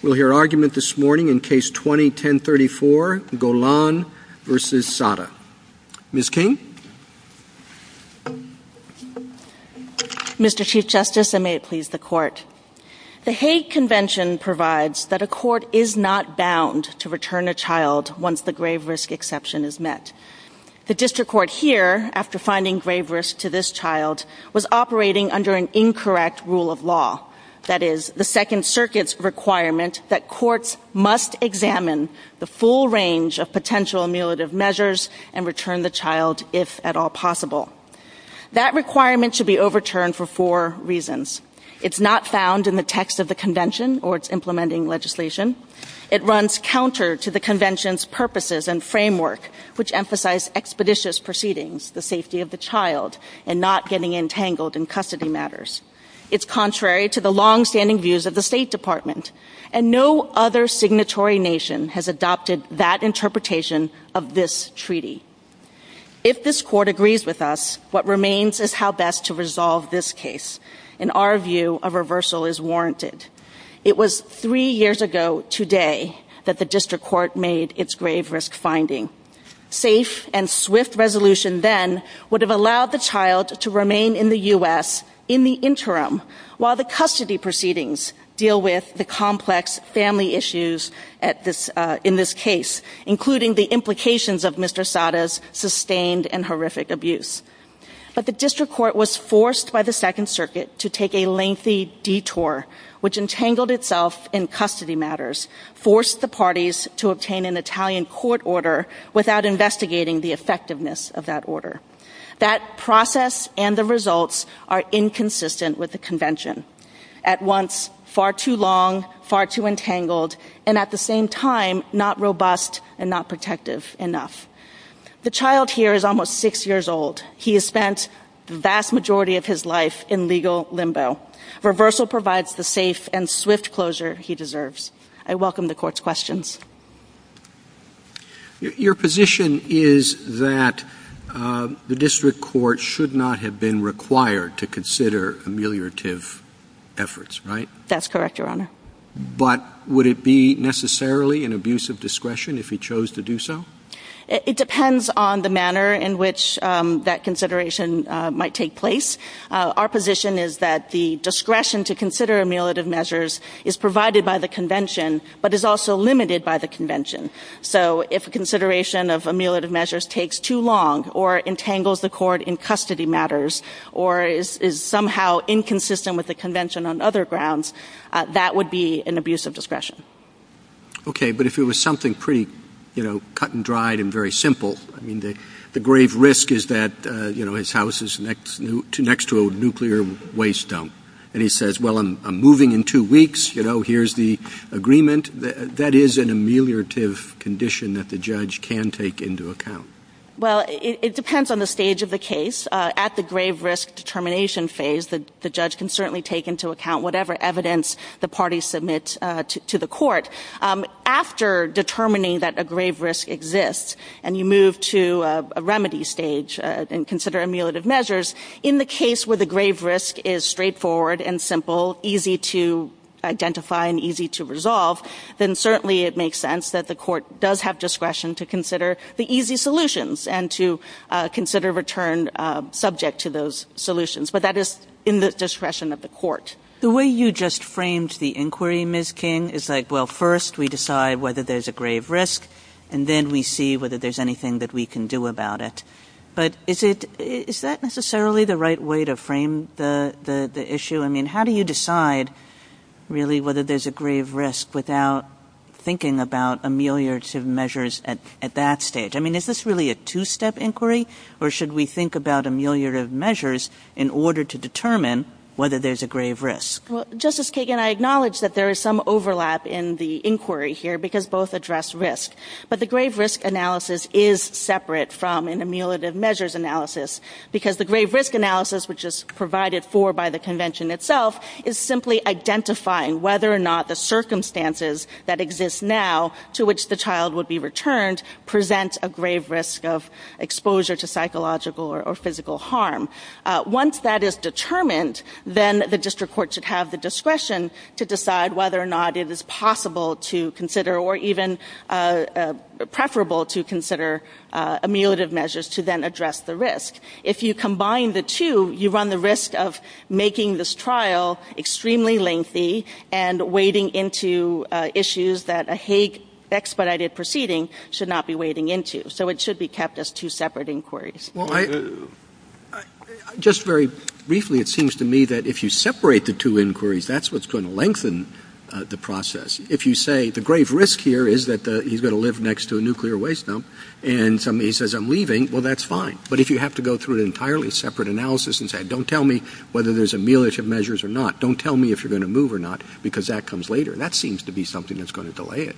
We'll hear argument this morning in Case 20-1034, Golan v. Saada. Ms. King? Mr. Chief Justice, and may it please the Court. The Hague Convention provides that a court is not bound to return a child once the grave risk exception is met. The District Court here, after finding grave risk to this child, was operating under an incorrect rule of law. That is, the Second Circuit's requirement that courts must examine the full range of potential mutilative measures and return the child if at all possible. That requirement should be overturned for four reasons. It's not found in the text of the Convention or its implementing legislation. It runs counter to the Convention's purposes and framework, which emphasize expeditious proceedings, the safety of the child, and not getting entangled in custody matters. It's contrary to the long-standing views of the State Department, and no other signatory nation has adopted that interpretation of this treaty. If this Court agrees with us, what remains is how best to resolve this case. In our view, a reversal is warranted. It was three years ago today that the District Court made its grave risk finding. Safe and swift resolution then would have allowed the child to remain in the U.S. in the interim, while the custody proceedings deal with the complex family issues in this case, including the implications of Mr. Sada's sustained and horrific abuse. But the District Court was forced by the Second Circuit to take a lengthy detour, which entangled itself in custody matters, forced the parties to obtain an Italian court order without investigating the effectiveness of that order. That process and the results are inconsistent with the Convention. At once, far too long, far too entangled, and at the same time, not robust and not protective enough. The child here is almost six years old. He has spent the vast majority of his life in legal limbo. Reversal provides the safe and swift closure he deserves. I welcome the Court's questions. Your position is that the District Court should not have been required to consider ameliorative efforts, right? That's correct, Your Honor. But would it be necessarily an abuse of discretion if he chose to do so? It depends on the manner in which that consideration might take place. Our position is that the discretion to consider ameliorative measures is provided by the Convention, but is also limited by the Convention. So if consideration of ameliorative measures takes too long or entangles the Court in custody matters or is somehow inconsistent with the Convention on other grounds, that would be an abuse of discretion. Okay, but if it was something pretty cut-and-dried and very simple, I mean, the grave risk is that his house is next to a nuclear waste dump, and he says, well, I'm moving in two weeks, here's the agreement, that is an ameliorative condition that the judge can take into account. Well, it depends on the stage of the case. At the grave risk determination phase, the judge can certainly take into account whatever evidence the parties submit to the Court. After determining that a grave risk exists and you move to a remedy stage and consider ameliorative measures, in the case where the grave risk is straightforward and simple, easy to identify and easy to resolve, then certainly it makes sense that the Court does have discretion to consider the easy solutions and to consider return subject to those solutions. The way you just framed the inquiry, Ms. King, is like, well, first we decide whether there's a grave risk and then we see whether there's anything that we can do about it. But is that necessarily the right way to frame the issue? I mean, how do you decide, really, whether there's a grave risk without thinking about ameliorative measures at that stage? I mean, is this really a two-step inquiry, or should we think about ameliorative measures in order to determine whether there's a grave risk? Well, Justice Kagan, I acknowledge that there is some overlap in the inquiry here because both address risk. But the grave risk analysis is separate from an ameliorative measures analysis because the grave risk analysis, which is provided for by the Convention itself, is simply identifying whether or not the circumstances that exist now to which the child would be returned present a grave risk of exposure to psychological or physical harm. Once that is determined, then the district court should have the discretion to decide whether or not it is possible to consider, or even preferable to consider, ameliorative measures to then address the risk. If you combine the two, you run the risk of making this trial extremely lengthy and wading into issues that a Hague expedited proceeding should not be wading into. So it should be kept as two separate inquiries. Just very briefly, it seems to me that if you separate the two inquiries, that's what's going to lengthen the process. If you say the grave risk here is that he's going to live next to a nuclear waste dump and somebody says, I'm leaving, well, that's fine. But if you have to go through an entirely separate analysis and say, don't tell me whether there's ameliorative measures or not, don't tell me if you're going to move or not because that comes later, that seems to be something that's going to delay it.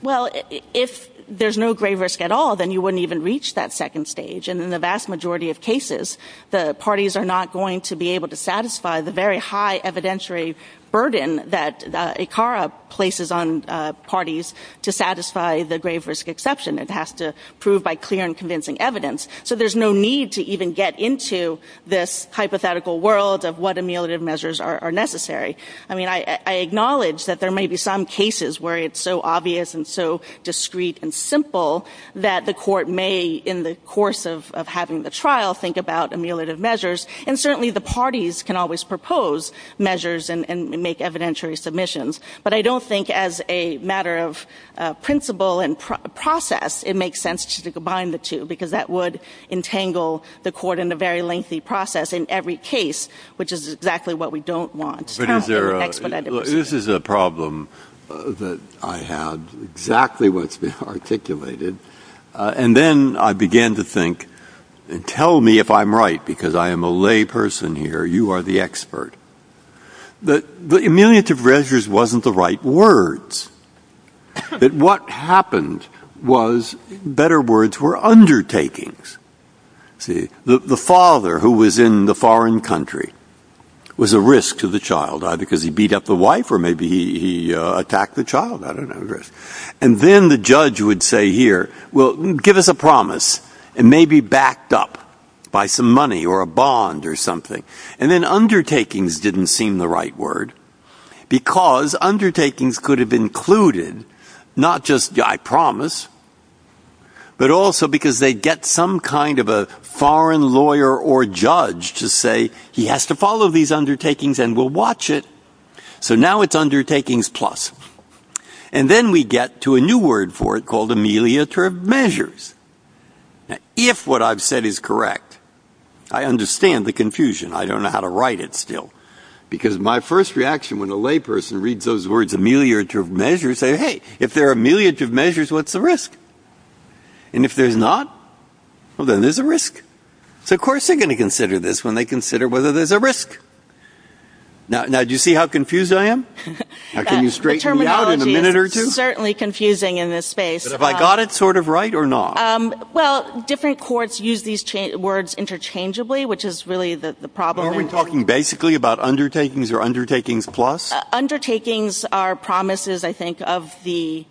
Well, if there's no grave risk at all, then you wouldn't even reach that second stage in the vast majority of cases. The parties are not going to be able to satisfy the very high evidentiary burden that ICARA places on parties to satisfy the grave risk exception. It has to prove by clear and convincing evidence. So there's no need to even get into this hypothetical world of what ameliorative measures are necessary. I mean, I acknowledge that there may be some cases where it's so obvious and so discreet and simple that the court may, in the course of having the trial, think about ameliorative measures. And certainly the parties can always propose measures and make evidentiary submissions. But I don't think as a matter of principle and process it makes sense to combine the two because that would entangle the court in a very lengthy process in every case, which is exactly what we don't want. This is a problem that I had, exactly what's been articulated. And then I began to think, and tell me if I'm right because I am a lay person here. You are the expert. The ameliorative measures wasn't the right words. What happened was better words were undertakings. The father who was in the foreign country was a risk to the child either because he beat up the wife or maybe he attacked the child. And then the judge would say here, well, give us a promise. It may be backed up by some money or a bond or something. And then undertakings didn't seem the right word because undertakings could have included not just I promise but also because they get some kind of a foreign lawyer or judge to say he has to follow these undertakings and we'll watch it. So now it's undertakings plus. And then we get to a new word for it called ameliorative measures. If what I've said is correct, I understand the confusion. I don't know how to write it still because my first reaction when a lay person reads those words ameliorative measures they say, hey, if there are ameliorative measures, what's the risk? And if there's not, well, then there's a risk. So of course they're going to consider this when they consider whether there's a risk. Now, do you see how confused I am? Can you straighten me out in a minute or two? Certainly confusing in this space. But have I got it sort of right or not? Well, different courts use these words interchangeably which is really the problem. Are we talking basically about undertakings or undertakings plus? Undertakings are promises, I think, of the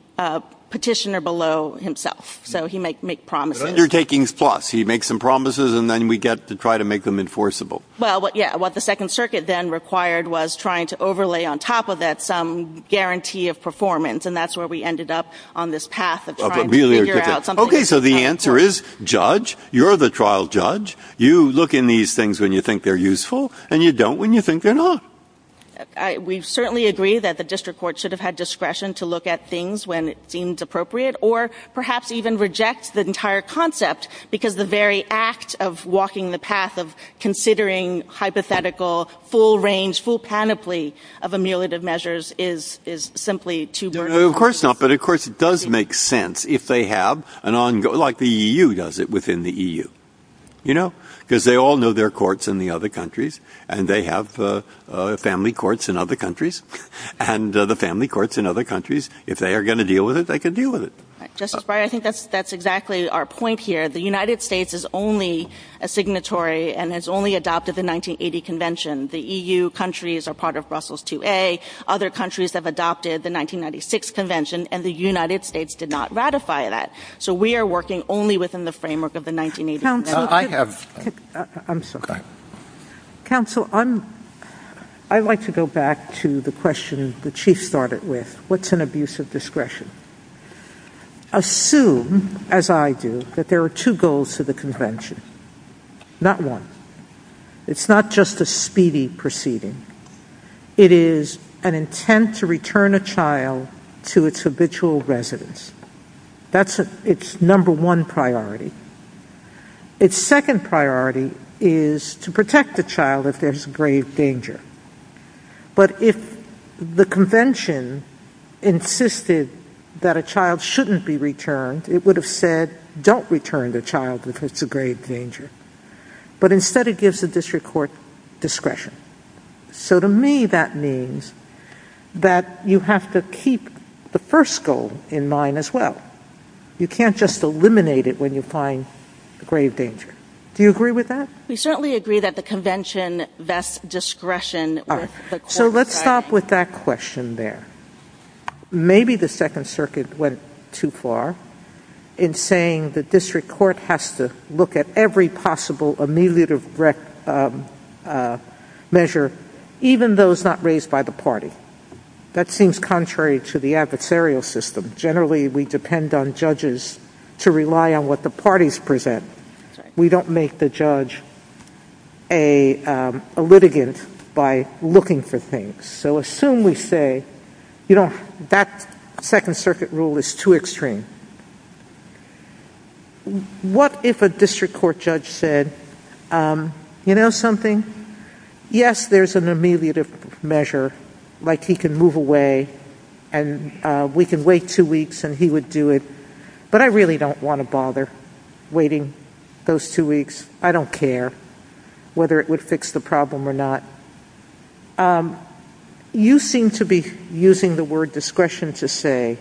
petitioner below himself. So he might make promises. Undertakings plus. He makes some promises and then we get to try to make them enforceable. Well, yeah, what the Second Circuit then required was trying to overlay on top of that some guarantee of performance and that's where we ended up on this path of trying to figure out something. Okay, so the answer is judge. You're the trial judge. You look in these things when you think they're useful and you don't when you think they're not. We certainly agree that the district court should have had discretion to look at things when it seems appropriate or perhaps even reject the entire concept because the very act of walking the path of considering hypothetical full range, full panoply of emulative measures is simply too boring. No, of course not, but of course it does make sense if they have an ongoing like the EU does it within the EU, you know, because they all know their courts in the other countries and they have family courts in other countries and the family courts in other countries. If they are going to deal with it, they can deal with it. Justice Breyer, I think that's exactly our point here. The United States is only a signatory and has only adopted the 1980 convention. The EU countries are part of Brussels 2A. Other countries have adopted the 1996 convention and the United States did not ratify that. So we are working only within the framework of the 1980 convention. I'm sorry. Counsel, I'd like to go back to the question the Chief started with. What's an abuse of discretion? Assume, as I do, that there are two goals to the convention. Not one. It's not just a speedy proceeding. It is an intent to return a child to its habitual residence. That's its number one priority. Its second priority is to protect the child if there's grave danger. But if the convention insisted that a child shouldn't be returned, it would have said don't return the child because it's a grave danger. But instead it gives the district court discretion. So to me that means that you have to keep the first goal in mind as well. You can't just eliminate it when you find grave danger. Do you agree with that? We certainly agree that the convention vests discretion. So let's stop with that question there. Maybe the Second Circuit went too far in saying the district court has to look at every possible ameliorative measure, even those not raised by the party. That seems contrary to the adversarial system. Generally we depend on judges to rely on what the parties present. We don't make the judge a litigant by looking for things. So assume we say, you know, that Second Circuit rule is too extreme. What if a district court judge said, you know something, yes there's an ameliorative measure like he can move away and we can wait two weeks and he would do it, but I really don't want to bother waiting those two weeks. I don't care whether it would fix the problem or not. You seem to be using the word discretion to say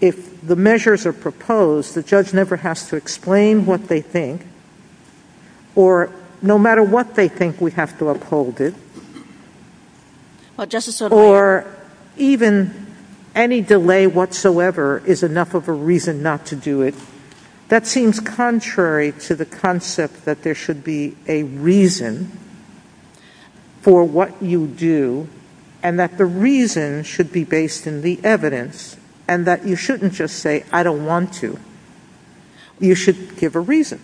if the measures are proposed the judge never has to explain what they think or no matter what they think we have to uphold it. Or even any delay whatsoever is enough of a reason not to do it. That seems contrary to the concept that there should be a reason for what you do and that the reason should be based in the evidence and that you shouldn't just say I don't want to. You should give a reason.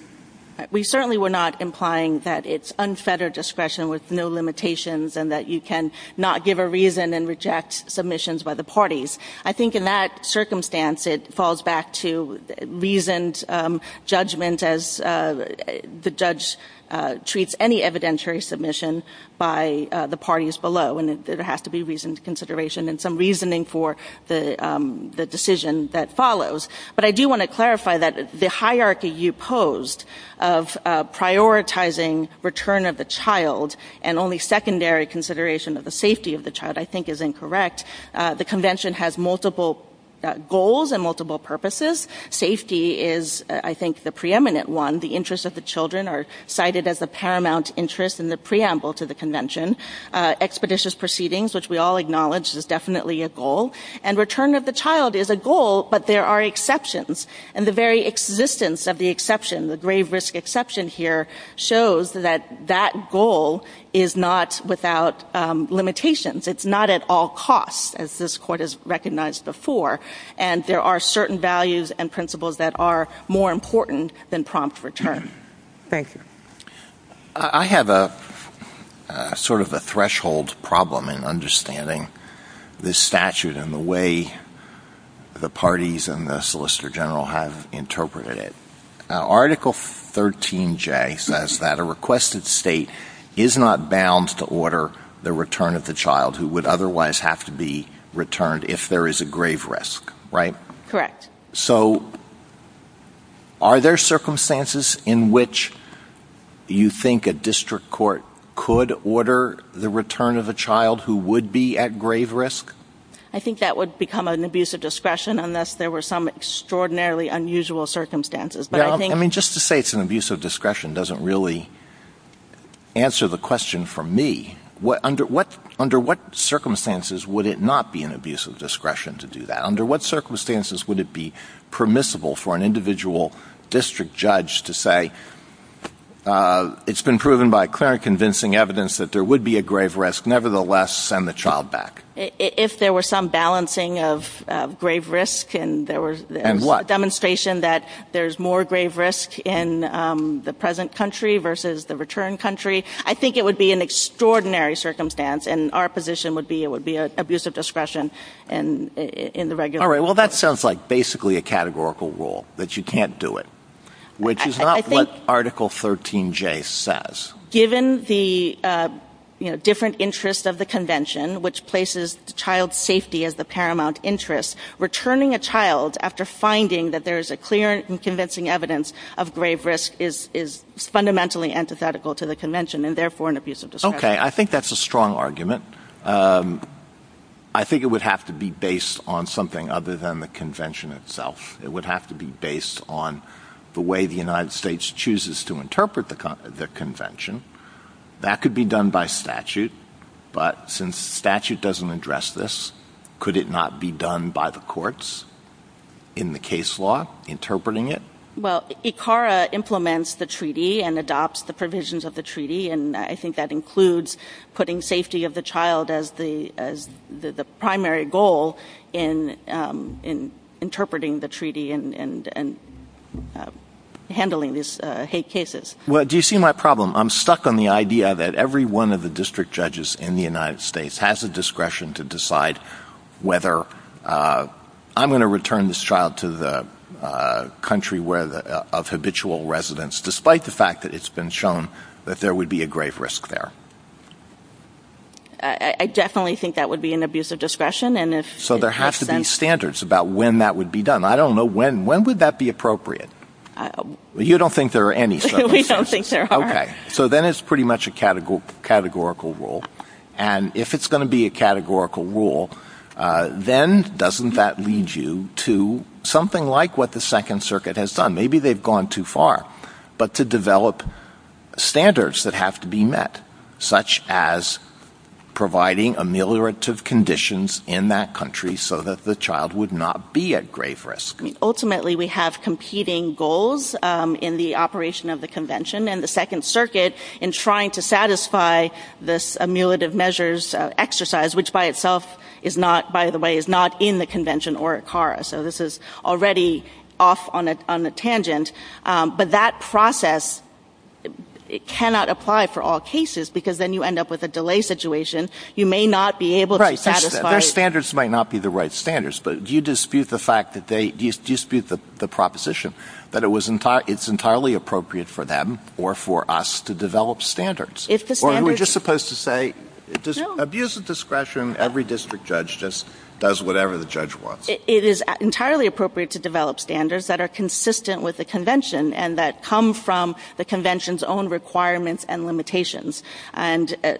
We certainly were not implying that it's unfettered discretion with no limitations and that you can not give a reason and reject submissions by the parties. I think in that circumstance it falls back to reasoned judgment as the judge treats any evidentiary submission by the parties below and there has to be reasoned consideration and some reasoning for the decision that follows. But I do want to clarify that the hierarchy you posed of prioritizing return of the child and only secondary consideration of the safety of the child I think is incorrect. The Convention has multiple goals and multiple purposes. Safety is, I think, the preeminent one. The interests of the children are cited as a paramount interest in the preamble to the Convention. Expeditious proceedings, which we all acknowledge is definitely a goal. And return of the child is a goal, but there are exceptions. And the very existence of the exception, the grave risk exception here, shows that that goal is not without limitations. It's not at all cost, as this Court has recognized before. And there are certain values and principles that are more important than prompt return. Thank you. I have sort of a threshold problem in understanding this statute and the way the parties and the Solicitor General have interpreted it. Article 13J says that a requested state is not bound to order the return of the child who would otherwise have to be returned if there is a grave risk, right? Correct. So are there circumstances in which you think a district court could order the return of a child who would be at grave risk? I think that would become an abuse of discretion unless there were some extraordinarily unusual circumstances. I mean, just to say it's an abuse of discretion doesn't really answer the question for me. Under what circumstances would it not be an abuse of discretion to do that? Under what circumstances would it be permissible for an individual district judge to say, it's been proven by clear convincing evidence that there would be a grave risk, nevertheless send the child back? If there were some balancing of grave risk and there was a demonstration that there's more grave risk in the present country versus the return country, I think it would be an extraordinary circumstance and our position would be it would be an abuse of discretion in the regulation. All right, well that sounds like basically a categorical rule, that you can't do it, which is not what Article 13J says. Given the different interests of the convention, which places the child's safety as the paramount interest, returning a child after finding that there's a clear and convincing evidence of grave risk is fundamentally antithetical to the convention and therefore an abuse of discretion. Okay, I think that's a strong argument. I think it would have to be based on something other than the convention itself. It would have to be based on the way the United States chooses to interpret the convention. That could be done by statute, but since statute doesn't address this, could it not be done by the courts in the case law interpreting it? Well, ICARA implements the treaty and adopts the provisions of the treaty and I think that includes putting safety of the child as the primary goal in interpreting the treaty and handling these hate cases. Well, do you see my problem? I'm stuck on the idea that every one of the district judges in the United States has the discretion to decide whether I'm going to return this child to the country of habitual residence, despite the fact that it's been shown that there would be a grave risk there. I definitely think that would be an abuse of discretion. So there have to be standards about when that would be done. I don't know when. When would that be appropriate? You don't think there are any. We don't think there are. Okay, so then it's pretty much a categorical rule and if it's going to be a categorical rule, then doesn't that lead you to something like what the Second Circuit has done? Maybe they've gone too far, but to develop standards that have to be met, such as providing ameliorative conditions in that country so that the child would not be at grave risk. Ultimately, we have competing goals in the operation of the convention and the Second Circuit in trying to satisfy this ameliorative measures exercise, which by the way is not in the convention or at ICARA. So this is already off on a tangent. But that process cannot apply for all cases because then you end up with a delay situation. You may not be able to satisfy it. Their standards might not be the right standards, but do you dispute the proposition that it's entirely appropriate for them or for us to develop standards? Or are we just supposed to say abuse of discretion, every district judge just does whatever the judge wants? It is entirely appropriate to develop standards that are consistent with the convention and that come from the convention's own requirements and limitations.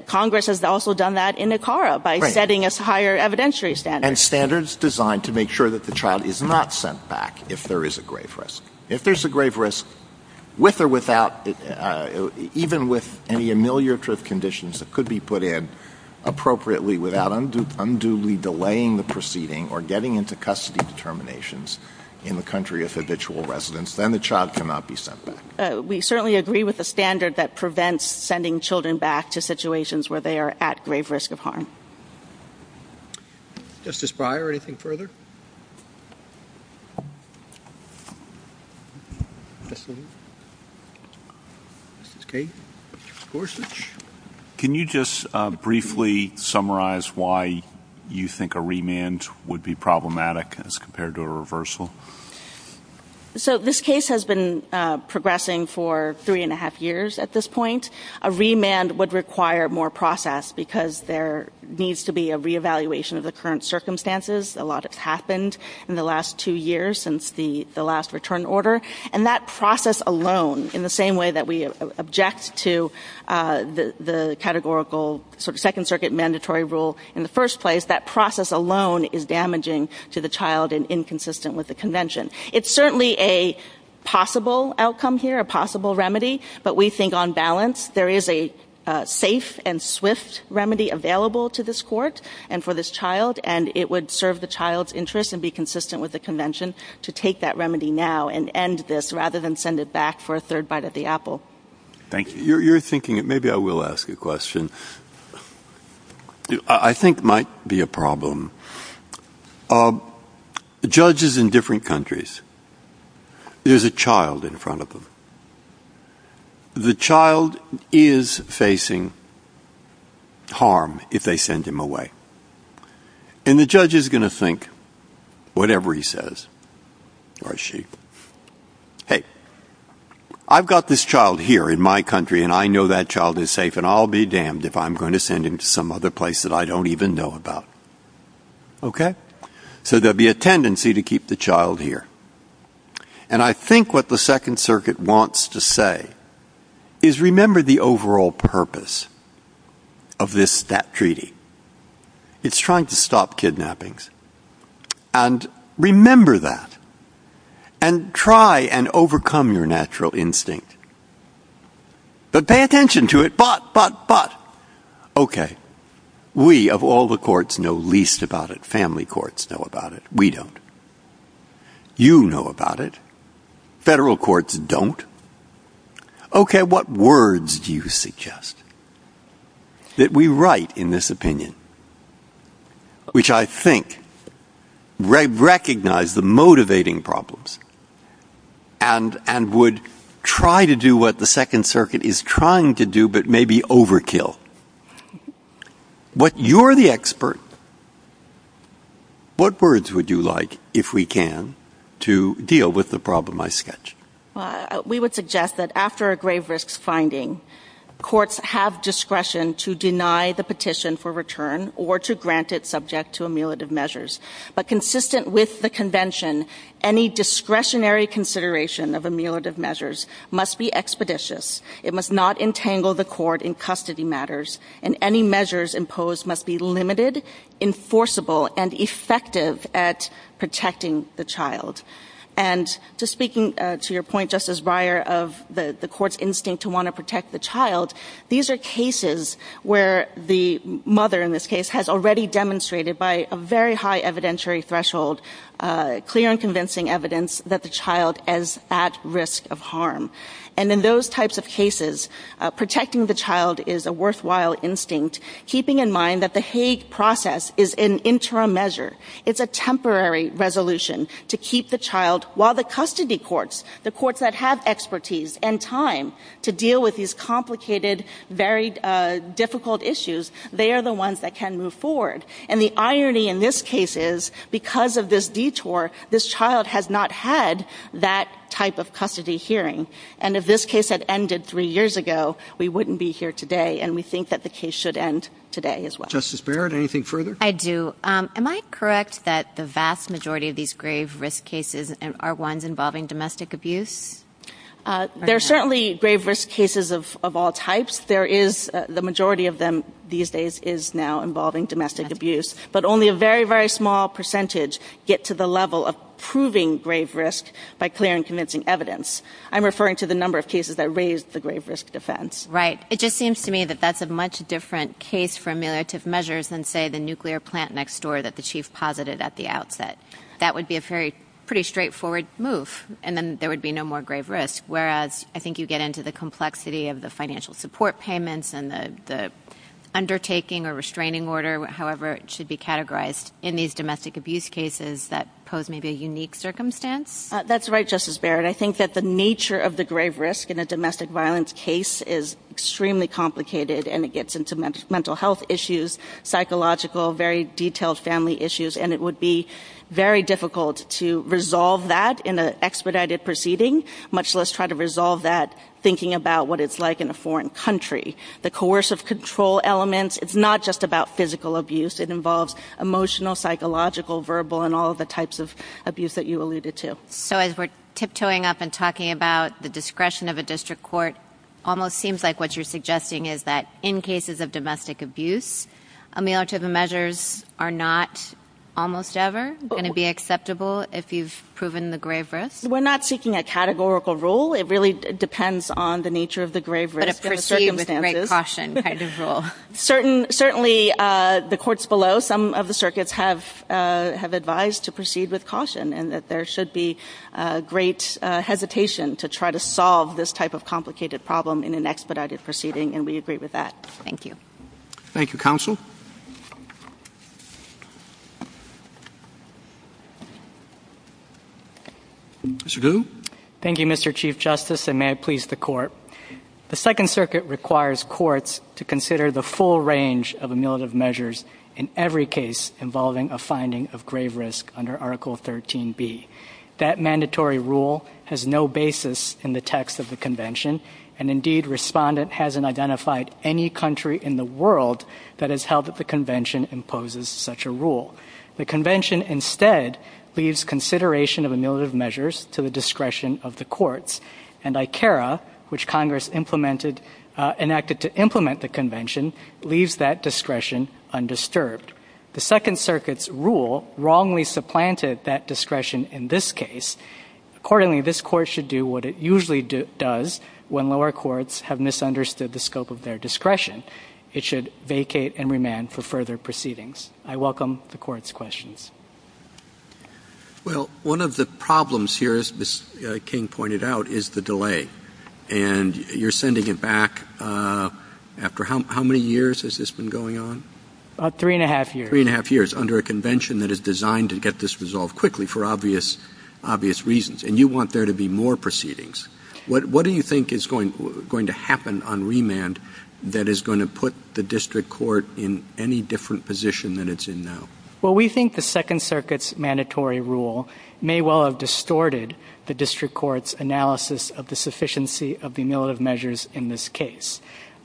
Congress has also done that in ICARA by setting us higher evidentiary standards. And standards designed to make sure that the child is not sent back if there is a grave risk. If there's a grave risk, with or without, even with any ameliorative conditions that could be put in appropriately without unduly delaying the proceeding or getting into custody determinations in the country of habitual residence, then the child cannot be sent back. We certainly agree with the standard that prevents sending children back to situations where they are at grave risk of harm. Justice Breyer, anything further? Justice Gates? Justice Gorsuch? Can you just briefly summarize why you think a remand would be problematic as compared to a reversal? So this case has been progressing for three and a half years at this point. A remand would require more process because there needs to be a reevaluation of the current circumstances. A lot has happened in the last two years since the last return order. And that process alone, in the same way that we object to the second circuit mandatory rule in the first place, that process alone is damaging to the child and inconsistent with the convention. It's certainly a possible outcome here, a possible remedy, but we think on balance there is a safe and swift remedy available to this court and for this child, and it would serve the child's interest and be consistent with the convention to take that remedy now and end this rather than send it back for a third bite at the apple. Thank you. You're thinking, maybe I will ask a question. I think it might be a problem. Judges in different countries, there's a child in front of them. The child is facing harm if they send him away. And the judge is going to think, whatever he says, or she, hey, I've got this child here in my country and I know that child is safe and I'll be damned if I'm going to send him to some other place that I don't even know about. Okay? So there will be a tendency to keep the child here. And I think what the second circuit wants to say is remember the overall purpose of this treaty. It's trying to stop kidnappings. And remember that. And try and overcome your natural instinct. But pay attention to it. But, but, but. Okay. We of all the courts know least about it. Family courts know about it. We don't. You know about it. Federal courts don't. Okay. What words do you suggest that we write in this opinion? Which I think recognize the motivating problems. And would try to do what the second circuit is trying to do, but maybe overkill. But you're the expert. What words would you like, if we can, to deal with the problem I sketched? We would suggest that after a grave risk finding, courts have discretion to deny the petition for return or to grant it subject to amulet of measures. But consistent with the convention, any discretionary consideration of amulet of measures must be expeditious. It must not entangle the court in custody matters. And any measures imposed must be limited, enforceable, and effective at protecting the child. And just speaking to your point, Justice Breyer, of the court's instinct to want to protect the child, these are cases where the mother, in this case, has already demonstrated by a very high evidentiary threshold, And in those types of cases, protecting the child is a worthwhile instinct, keeping in mind that the Hague process is an interim measure. It's a temporary resolution to keep the child, while the custody courts, the courts that have expertise and time to deal with these complicated, very difficult issues, they are the ones that can move forward. And the irony in this case is, because of this detour, this child has not had that type of custody hearing. And if this case had ended three years ago, we wouldn't be here today, and we think that the case should end today as well. Justice Barrett, anything further? I do. Am I correct that the vast majority of these grave risk cases are ones involving domestic abuse? They're certainly grave risk cases of all types. The majority of them these days is now involving domestic abuse. But only a very, very small percentage get to the level of proving grave risk by clearing convincing evidence. I'm referring to the number of cases that raise the grave risk defense. Right. It just seems to me that that's a much different case for ameliorative measures than, say, the nuclear plant next door that the chief posited at the outset. That would be a pretty straightforward move, and then there would be no more grave risk, whereas I think you get into the complexity of the financial support payments and the undertaking or restraining order, however it should be categorized, in these domestic abuse cases that pose maybe a unique circumstance. That's right, Justice Barrett. I think that the nature of the grave risk in a domestic violence case is extremely complicated, and it gets into mental health issues, psychological, very detailed family issues, and it would be very difficult to resolve that in an expedited proceeding, much less try to resolve that thinking about what it's like in a foreign country. The coercive control elements, it's not just about physical abuse. It involves emotional, psychological, verbal, and all the types of abuse that you alluded to. So as we're tiptoeing up and talking about the discretion of a district court, almost seems like what you're suggesting is that in cases of domestic abuse, ameliorative measures are not almost ever going to be acceptable if you've proven the grave risk. We're not seeking a categorical rule. It really depends on the nature of the grave risk. But a proceed with great caution kind of rule. Certainly the courts below, some of the circuits have advised to proceed with caution and that there should be great hesitation to try to solve this type of complicated problem in an expedited proceeding, and we agree with that. Thank you. Thank you, Counsel. Mr. Gu? Thank you, Mr. Chief Justice, and may it please the Court. The Second Circuit requires courts to consider the full range of ameliorative measures in every case involving a finding of grave risk under Article 13B. That mandatory rule has no basis in the text of the Convention, and indeed Respondent hasn't identified any country in the world that has held that the Convention imposes such a rule. The Convention instead leaves consideration of ameliorative measures to the discretion of the courts, and ICARA, which Congress enacted to implement the Convention, leaves that discretion undisturbed. The Second Circuit's rule wrongly supplanted that discretion in this case. Accordingly, this Court should do what it usually does when lower courts have misunderstood the scope of their discretion. It should vacate and remand for further proceedings. I welcome the Court's questions. Well, one of the problems here, as Ms. King pointed out, is the delay, and you're sending it back after how many years has this been going on? About three and a half years. Three and a half years under a Convention that is designed to get this resolved quickly for obvious reasons, and you want there to be more proceedings. What do you think is going to happen on remand that is going to put the district court in any different position than it's in now? Well, we think the Second Circuit's mandatory rule may well have distorted the district court's analysis of the sufficiency of the ameliorative measures in this case.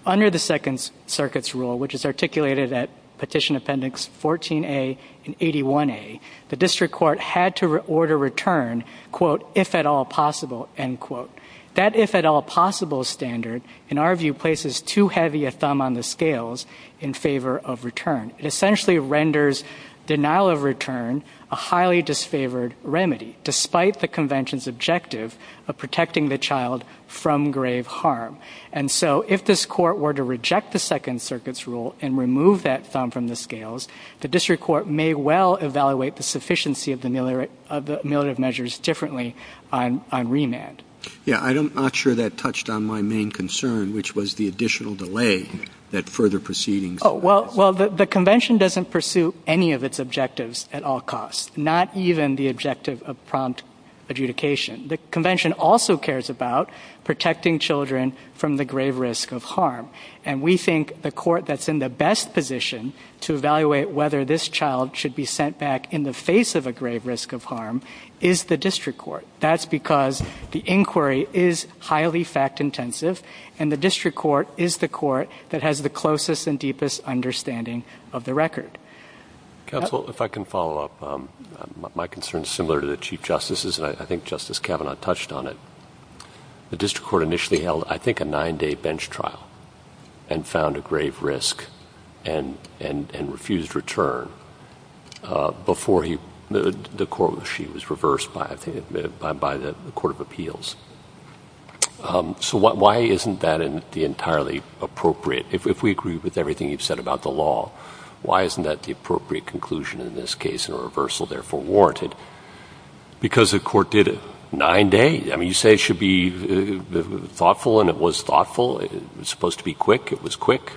Under the Second Circuit's rule, which is articulated at Petition Appendix 14A and 81A, the district court had to order return, quote, if at all possible, end quote. That if at all possible standard, in our view, places too heavy a thumb on the scales in favor of return. It essentially renders denial of return a highly disfavored remedy, despite the Convention's objective of protecting the child from grave harm. And so if this court were to reject the Second Circuit's rule and remove that thumb from the scales, the district court may well evaluate the sufficiency of the ameliorative measures differently on remand. Yeah, I'm not sure that touched on my main concern, which was the additional delay that further proceedings... Oh, well, the Convention doesn't pursue any of its objectives at all costs, not even the objective of prompt adjudication. The Convention also cares about protecting children from the grave risk of harm, and we think the court that's in the best position to evaluate whether this child should be sent back in the face of a grave risk of harm is the district court. That's because the inquiry is highly fact-intensive, and the district court is the court that has the closest and deepest understanding of the record. Counsel, if I can follow up. My concern is similar to the Chief Justice's, and I think Justice Kavanaugh touched on it. The district court initially held, I think, a nine-day bench trial and found a grave risk and refused return before the court was reversed by the Court of Appeals. So why isn't that entirely appropriate? If we agree with everything you've said about the law, why isn't that the appropriate conclusion in this case, and a reversal therefore warranted? Because the court did a nine-day. I mean, you say it should be thoughtful, and it was thoughtful. It was supposed to be quick. It was quick.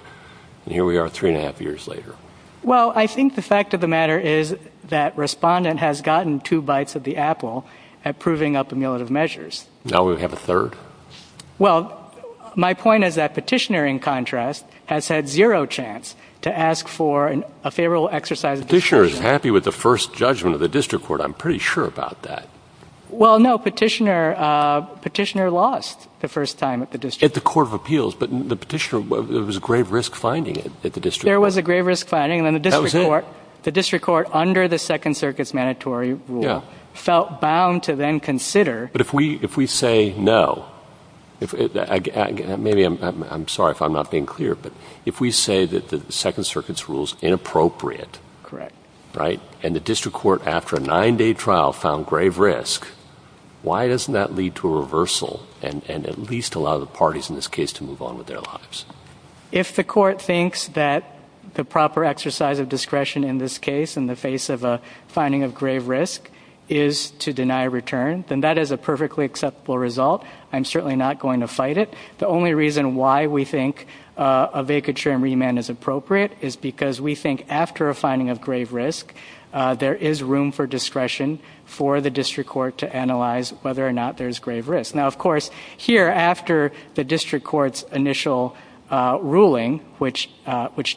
And here we are three and a half years later. Well, I think the fact of the matter is that Respondent has gotten two bites of the apple at proving up amulet of measures. Now we have a third. Well, my point is that Petitioner, in contrast, has had zero chance to ask for a favorable exercise of discretion. Petitioner is happy with the first judgment of the district court. I'm pretty sure about that. Well, no, Petitioner lost the first time at the district court. At the Court of Appeals. But the petitioner, there was a grave risk finding it at the district court. There was a grave risk finding it, and the district court under the Second Circuit's mandatory rule felt bound to then consider. But if we say no, maybe I'm sorry if I'm not being clear, but if we say that the Second Circuit's rule is inappropriate, and the district court after a nine-day trial found grave risk, why doesn't that lead to a reversal and at least allow the parties in this case to move on with their lives? If the court thinks that the proper exercise of discretion in this case in the face of a finding of grave risk is to deny a return, then that is a perfectly acceptable result. I'm certainly not going to fight it. The only reason why we think a vacature and remand is appropriate is because we think after a finding of grave risk, there is room for discretion for the district court to analyze whether or not there is grave risk. Now, of course, here after the district court's initial ruling, which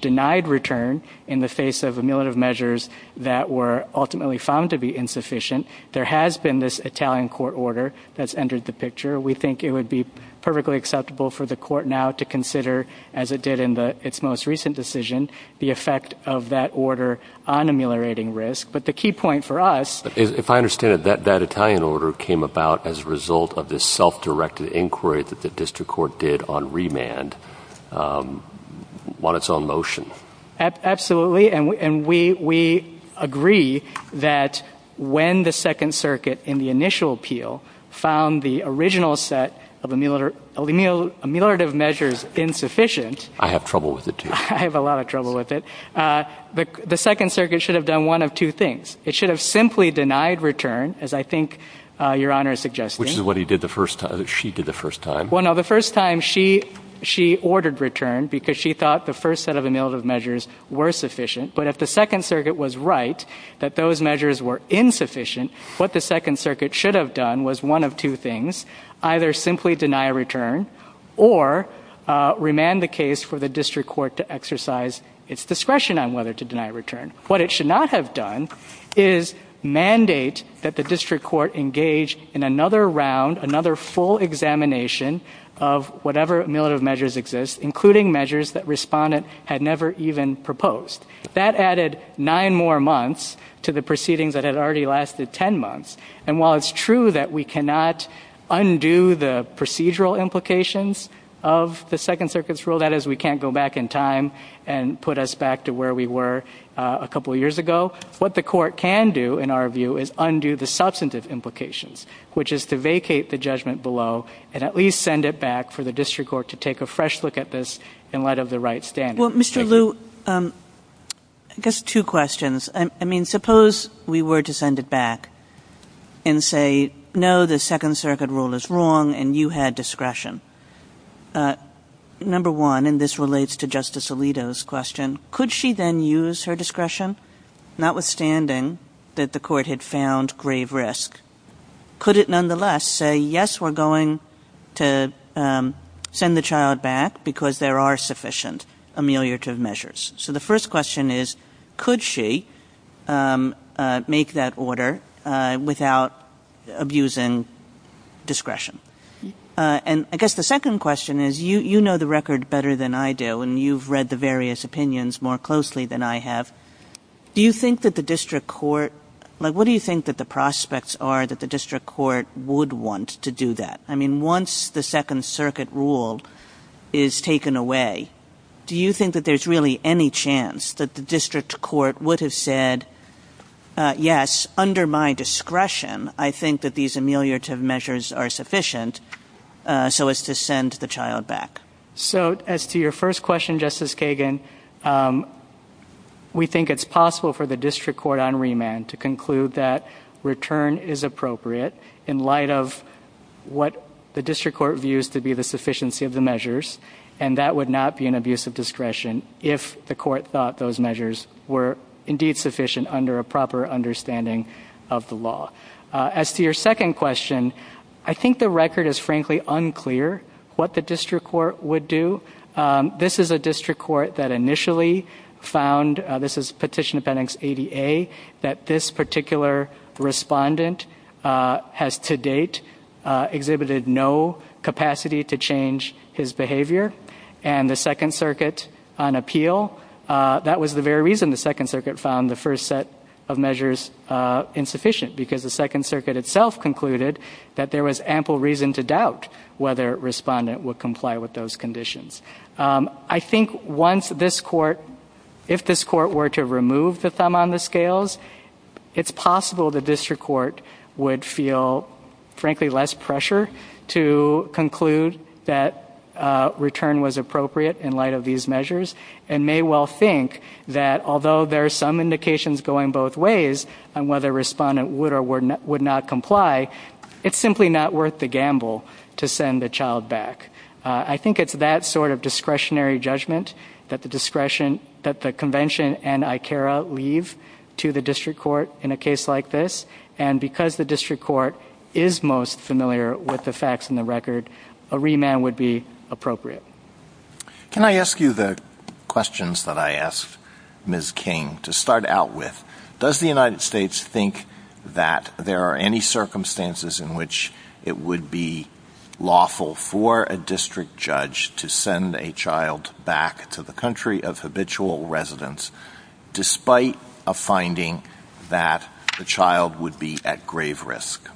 denied return in the face of ameliorative measures that were ultimately found to be insufficient, there has been this Italian court order that's entered the picture. We think it would be perfectly acceptable for the court now to consider, as it did in its most recent decision, the effect of that order on ameliorating risk. But the key point for us... If I understand it, that Italian order came about as a result of this self-directed inquiry that the district court did on remand on its own notion. Absolutely. And we agree that when the Second Circuit, in the initial appeal, found the original set of ameliorative measures insufficient... I have trouble with it, too. I have a lot of trouble with it. The Second Circuit should have done one of two things. It should have simply denied return, as I think Your Honor is suggesting. Which is what she did the first time. Well, no, the first time she ordered return because she thought the first set of ameliorative measures were sufficient. But if the Second Circuit was right that those measures were insufficient, what the Second Circuit should have done was one of two things. Either simply deny return or remand the case for the district court to exercise its discretion on whether to deny return. What it should not have done is mandate that the district court engage in another round, another full examination of whatever ameliorative measures exist, including measures that Respondent had never even proposed. That added nine more months to the proceedings that had already lasted ten months. And while it's true that we cannot undo the procedural implications of the Second Circuit's rule, that is, we can't go back in time and put us back to where we were a couple of years ago, what the court can do, in our view, is undo the substantive implications, which is to vacate the judgment below and at least send it back for the district court to take a fresh look at this in light of the right standards. Well, Mr. Liu, I guess two questions. I mean, suppose we were to send it back and say, no, the Second Circuit rule is wrong and you had discretion. Number one, and this relates to Justice Alito's question, could she then use her discretion? Notwithstanding that the court had found grave risk, could it nonetheless say, yes, we're going to send the child back because there are sufficient ameliorative measures? So the first question is, could she make that order without abusing discretion? And I guess the second question is, you know the record better than I do, and you've read the various opinions more closely than I have. What do you think that the prospects are that the district court would want to do that? I mean, once the Second Circuit rule is taken away, do you think that there's really any chance that the district court would have said, yes, under my discretion I think that these ameliorative measures are sufficient so as to send the child back? So as to your first question, Justice Kagan, we think it's possible for the district court on remand to conclude that return is appropriate in light of what the district court views to be the sufficiency of the measures, and that would not be an abuse of discretion if the court thought those measures were indeed sufficient under a proper understanding of the law. As to your second question, I think the record is frankly unclear what the district court would do. This is a district court that initially found, this is Petition Appendix 80A, that this particular respondent has to date exhibited no capacity to change his behavior, and the Second Circuit on appeal, that was the very reason the Second Circuit found the first set of measures insufficient, because the Second Circuit itself concluded that there was ample reason to doubt whether a respondent would comply with those conditions. I think once this court, if this court were to remove the thumb on the scales, it's possible the district court would feel frankly less pressure to conclude that return was appropriate in light of these measures, and may well think that although there are some indications going both ways on whether a respondent would or would not comply, it's simply not worth the gamble to send the child back. I think it's that sort of discretionary judgment that the convention and ICARA leave to the district court in a case like this, and because the district court is most familiar with the facts in the record, a remand would be appropriate. Can I ask you the questions that I asked Ms. King to start out with? Does the United States think that there are any circumstances in which it would be lawful for a district judge to send a child back to the country of habitual residence, despite a finding that the child would be at grave risk?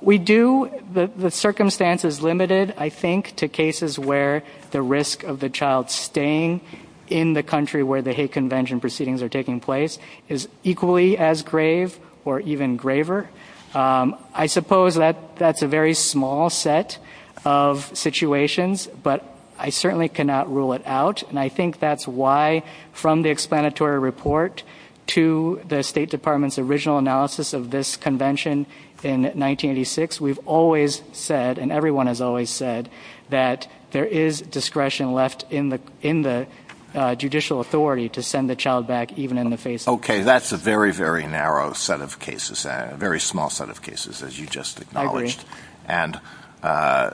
We do. The circumstance is limited, I think, to cases where the risk of the child staying in the country where the hate convention proceedings are taking place is equally as grave or even graver. I suppose that's a very small set of situations, but I certainly cannot rule it out, and I think that's why from the explanatory report to the State Department's original analysis of this convention in 1986, we've always said, and everyone has always said, that there is discretion left in the judicial authority to send the child back even in the face of danger. Okay, that's a very, very narrow set of cases, a very small set of cases, as you just acknowledged. I agree. And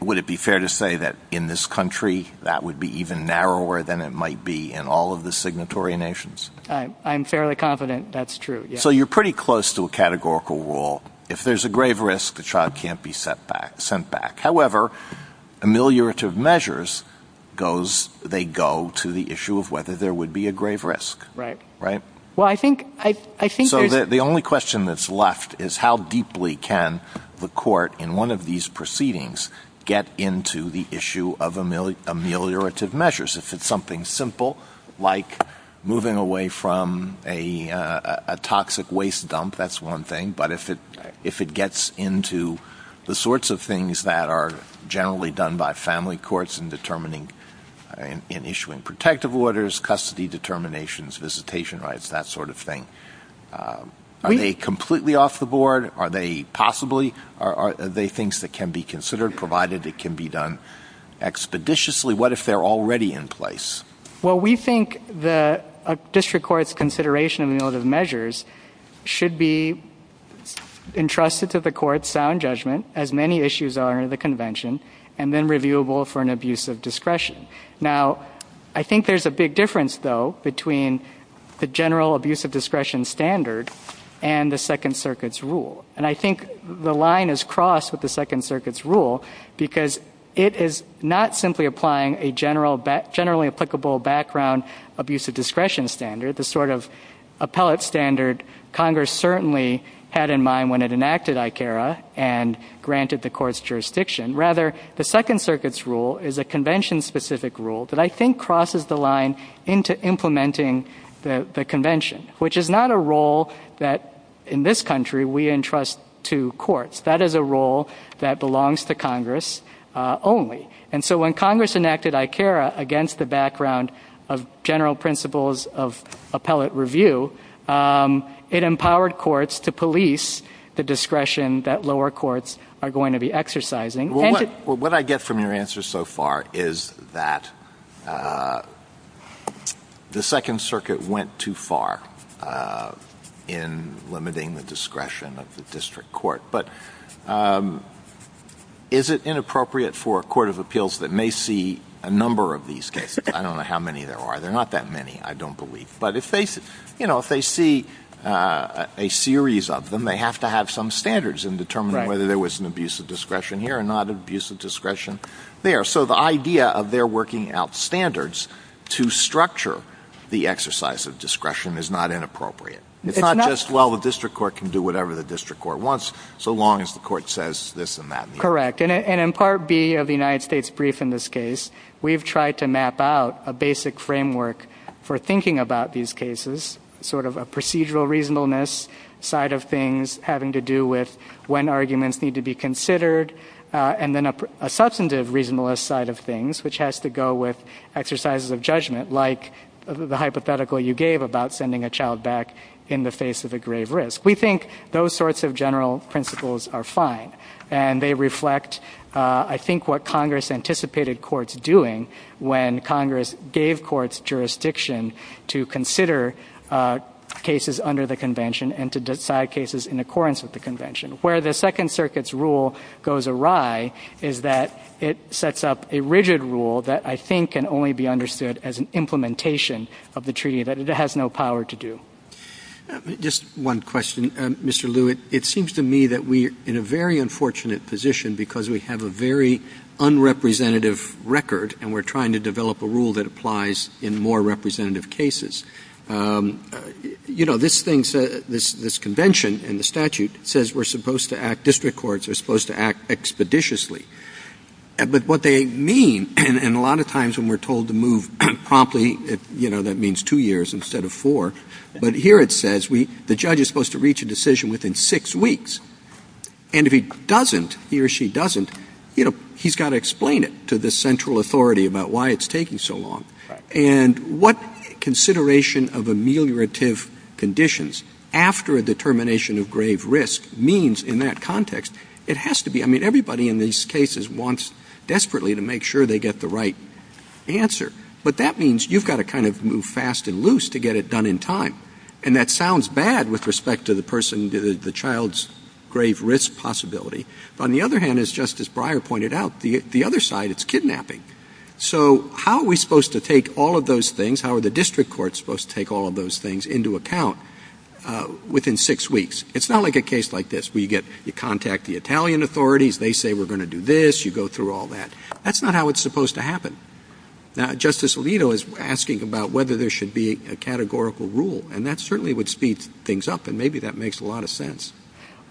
would it be fair to say that in this country that would be even narrower than it might be in all of the signatory nations? I'm fairly confident that's true, yes. So you're pretty close to a categorical rule. If there's a grave risk, the child can't be sent back. However, ameliorative measures, they go to the issue of whether there would be a grave risk. Right. So the only question that's left is how deeply can the court in one of these proceedings get into the issue of ameliorative measures? If it's something simple like moving away from a toxic waste dump, that's one thing, but if it gets into the sorts of things that are generally done by family courts in issuing protective orders, custody determinations, visitation rights, that sort of thing, are they completely off the board? Are they possibly things that can be considered, provided it can be done expeditiously? What if they're already in place? Well, we think the district court's consideration of ameliorative measures should be entrusted to the court's sound judgment, as many issues are in the convention, and then reviewable for an abuse of discretion. Now, I think there's a big difference, though, between the general abuse of discretion standard and the Second Circuit's rule. And I think the line is crossed with the Second Circuit's rule, because it is not simply applying a generally applicable background abuse of discretion standard, the sort of appellate standard Congress certainly had in mind when it enacted ICARA and granted the court's jurisdiction. Rather, the Second Circuit's rule is a convention-specific rule that I think crosses the line into implementing the convention, which is not a role that, in this country, we entrust to courts. That is a role that belongs to Congress only. And so when Congress enacted ICARA against the background of general principles of appellate review, it empowered courts to police the discretion that lower courts are going to be exercising. Well, what I get from your answer so far is that the Second Circuit went too far in limiting the discretion of the district court. But is it inappropriate for a court of appeals that may see a number of these cases? I don't know how many there are. There are not that many, I don't believe. But if they see a series of them, they have to have some standards in determining whether there was an abuse of discretion here and not an abuse of discretion there. So the idea of their working out standards to structure the exercise of discretion is not inappropriate. It's not just, well, the district court can do whatever the district court wants so long as the court says this and that. Correct. And in Part B of the United States Brief in this case, we've tried to map out a basic framework for thinking about these cases, sort of a procedural reasonableness side of things having to do with when arguments need to be considered, and then a substantive reasonableness side of things, which has to go with exercises of judgment, like the hypothetical you gave about sending a child back in the face of a grave risk. We think those sorts of general principles are fine, and they reflect I think what Congress anticipated courts doing when Congress gave courts jurisdiction to consider cases under the convention and to decide cases in accordance with the convention. Where the Second Circuit's rule goes awry is that it sets up a rigid rule that I think can only be understood as an implementation of the treaty that it has no power to do. Just one question, Mr. Lewitt. It seems to me that we're in a very unfortunate position because we have a very unrepresentative record, and we're trying to develop a rule that applies in more representative cases. You know, this convention and the statute says district courts are supposed to act expeditiously. But what they mean, and a lot of times when we're told to move promptly, you know, that means two years instead of four, but here it says the judge is supposed to reach a decision within six weeks, and if he doesn't, he or she doesn't, you know, he's got to explain it to the central authority about why it's taking so long. And what consideration of ameliorative conditions after a determination of grave risk means in that context, it has to be, I mean, everybody in these cases wants desperately to make sure they get the right answer. But that means you've got to kind of move fast and loose to get it done in time. And that sounds bad with respect to the person, the child's grave risk possibility. On the other hand, as Justice Breyer pointed out, the other side, it's kidnapping. So how are we supposed to take all of those things, how are the district courts supposed to take all of those things into account within six weeks? It's not like a case like this where you contact the Italian authorities, they say we're going to do this, you go through all that. That's not how it's supposed to happen. Now, Justice Alito is asking about whether there should be a categorical rule, and that certainly would speed things up, and maybe that makes a lot of sense.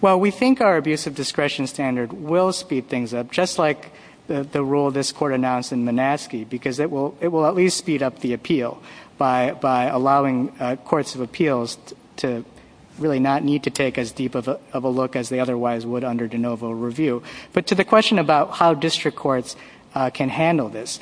Well, we think our abuse of discretion standard will speed things up, just like the rule this court announced in Minaski, because it will at least speed up the appeal by allowing courts of appeals to really not need to take as deep of a look as they otherwise would under de novo review. But to the question about how district courts can handle this,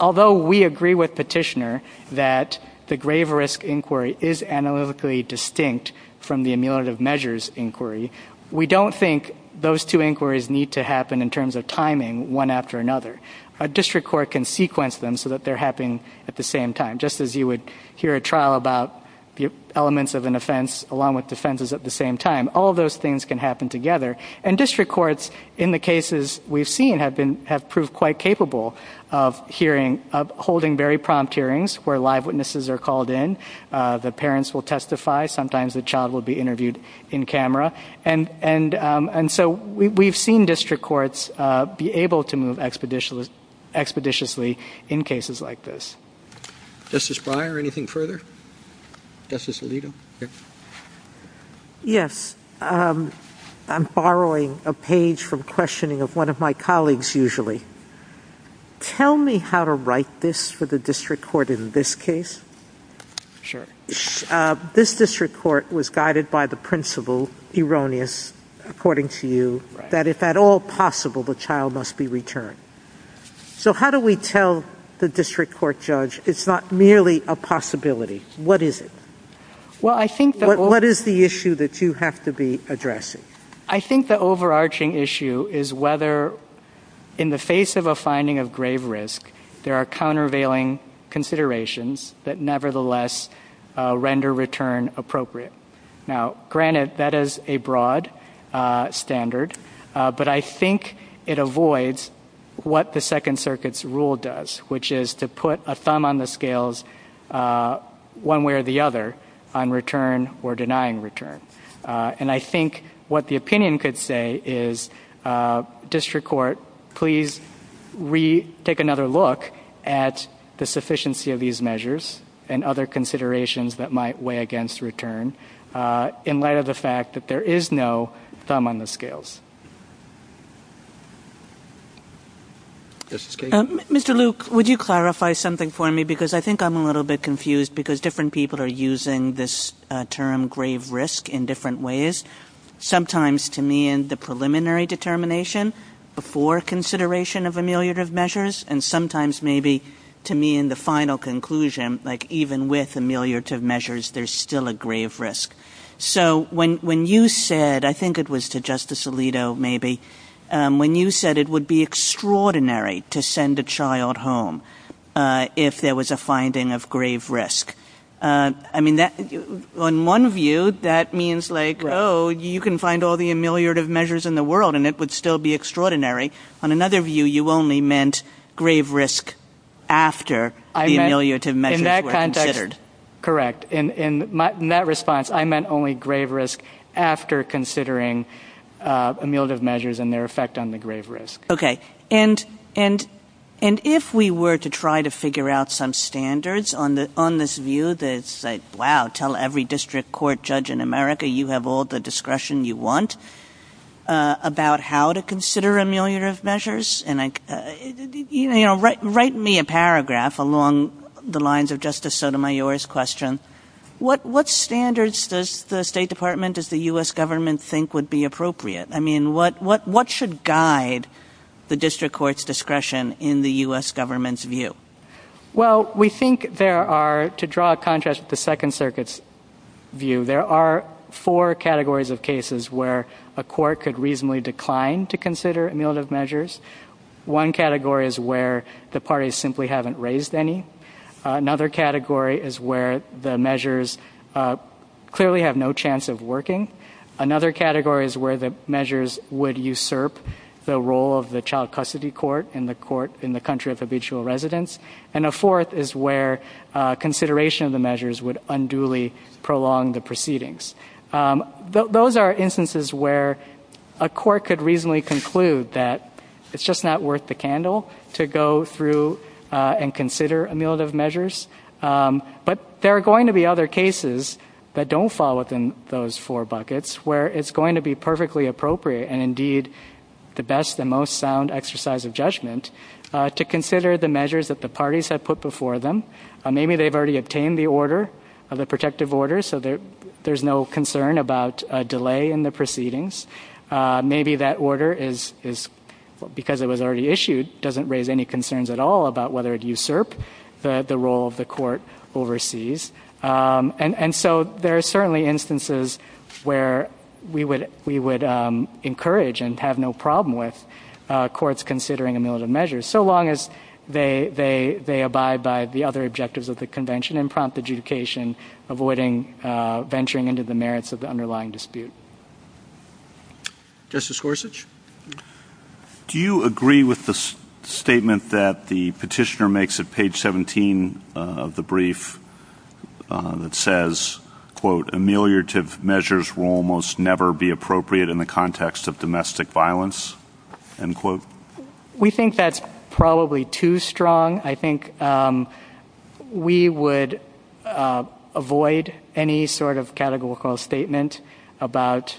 although we agree with Petitioner that the grave risk inquiry is analytically distinct from the emulative measures inquiry, we don't think those two inquiries need to happen in terms of timing one after another. A district court can sequence them so that they're happening at the same time, just as you would hear a trial about elements of an offense along with defenses at the same time. All those things can happen together, and district courts, in the cases we've seen, have proved quite capable of holding very prompt hearings where live witnesses are called in, the parents will testify, sometimes the child will be interviewed in camera. And so we've seen district courts be able to move expeditiously in cases like this. Justice Breyer, anything further? Justice Alito? Yes. I'm borrowing a page from questioning of one of my colleagues, usually. Tell me how to write this for the district court in this case. This district court was guided by the principle, erroneous according to you, that if at all possible the child must be returned. So how do we tell the district court judge it's not merely a possibility? What is it? What is the issue that you have to be addressing? I think the overarching issue is whether, in the face of a finding of grave risk, there are countervailing considerations that nevertheless render return appropriate. Now, granted, that is a broad standard, but I think it avoids what the Second Circuit's rule does, which is to put a thumb on the scales one way or the other on return or denying return. And I think what the opinion could say is, district court, please take another look at the sufficiency of these measures and other considerations that might weigh against return in light of the fact that there is no thumb on the scales. Mr. Luke, would you clarify something for me? Because I think I'm a little bit confused because different people are using this term, grave risk, in different ways. Sometimes to me in the preliminary determination before consideration of ameliorative measures, and sometimes maybe to me in the final conclusion, like even with ameliorative measures there's still a grave risk. So when you said, I think it was to Justice Alito maybe, when you said it would be extraordinary to send a child home if there was a finding of grave risk, I mean, on one view that means like, oh, you can find all the ameliorative measures in the world and it would still be extraordinary. On another view, you only meant grave risk after the ameliorative measures were considered. Correct. In that response, I meant only grave risk after considering ameliorative measures and their effect on the grave risk. Okay. And if we were to try to figure out some standards on this view that's like, wow, tell every district court judge in America you have all the discretion you want about how to consider ameliorative measures, write me a paragraph along the lines of Justice Sotomayor's question. What standards does the State Department, does the U.S. government think would be appropriate? I mean, what should guide the district court's discretion in the U.S. government's view? Well, we think there are, to draw a contrast to the Second Circuit's view, there are four categories of cases where a court could reasonably decline to consider ameliorative measures. One category is where the parties simply haven't raised any. Another category is where the measures clearly have no chance of working. Another category is where the measures would usurp the role of the child custody court in the country of habitual residence. And a fourth is where consideration of the measures would unduly prolong the proceedings. Those are instances where a court could reasonably conclude that it's just not worth the candle to go through and consider ameliorative measures. But there are going to be other cases that don't fall within those four buckets where it's going to be perfectly appropriate and, indeed, the best and most sound exercise of judgment to consider the measures that the parties have put before them. Maybe they've already obtained the order, the protective order, so there's no concern about a delay in the proceedings. Maybe that order, because it was already issued, doesn't raise any concerns at all about whether it usurped the role of the court overseas. And so there are certainly instances where we would encourage and have no problem with courts considering ameliorative measures, so long as they abide by the other objectives of the Convention and prompt adjudication, avoiding venturing into the merits of the underlying dispute. Justice Gorsuch? Do you agree with the statement that the petitioner makes at page 17 of the brief that says, quote, ameliorative measures will almost never be appropriate in the context of domestic violence, end quote? We think that's probably too strong. I think we would avoid any sort of categorical statement about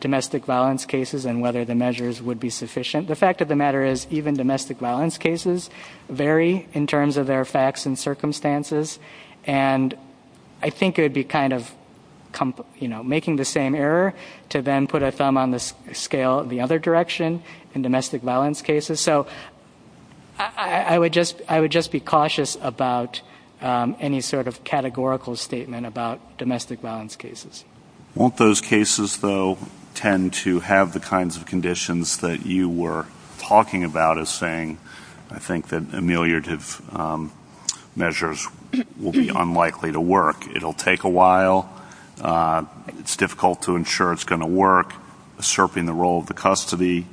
domestic violence cases and whether the measures would be sufficient. The fact of the matter is even domestic violence cases vary in terms of their facts and circumstances, and I think it would be kind of making the same error to then put a thumb on the scale in the other direction in domestic violence cases. So I would just be cautious about any sort of categorical statement about domestic violence cases. Won't those cases, though, tend to have the kinds of conditions that you were talking about as saying, I think that ameliorative measures will be unlikely to work. It will take a while. It's difficult to ensure it's going to work, asserting the role of the custody.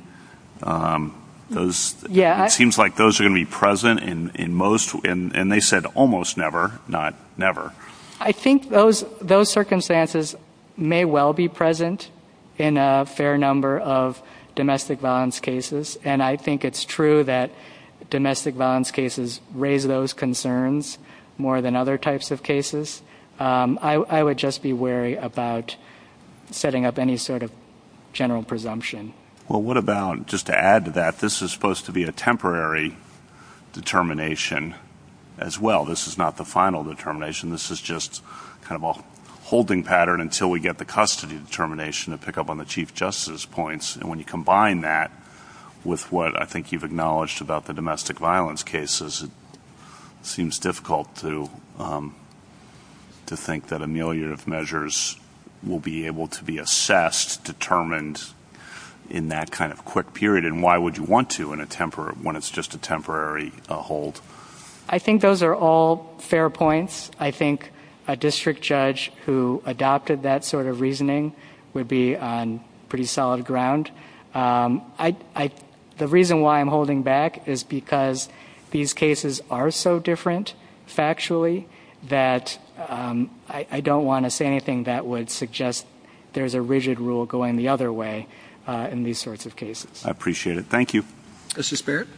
It seems like those are going to be present in most, and they said almost never, not never. I think those circumstances may well be present in a fair number of domestic violence cases, and I think it's true that domestic violence cases raise those concerns more than other types of cases. I would just be wary about setting up any sort of general presumption. Well, what about, just to add to that, this is supposed to be a temporary determination as well. This is not the final determination. This is just kind of a holding pattern until we get the custody determination to pick up on the chief justice points. And when you combine that with what I think you've acknowledged about the domestic violence cases, it seems difficult to think that ameliorative measures will be able to be assessed, determined in that kind of quick period. And why would you want to when it's just a temporary hold? I think those are all fair points. Yes, I think a district judge who adopted that sort of reasoning would be on pretty solid ground. The reason why I'm holding back is because these cases are so different factually that I don't want to say anything that would suggest there's a rigid rule going the other way in these sorts of cases. I appreciate it. Thank you. Justice Barrett?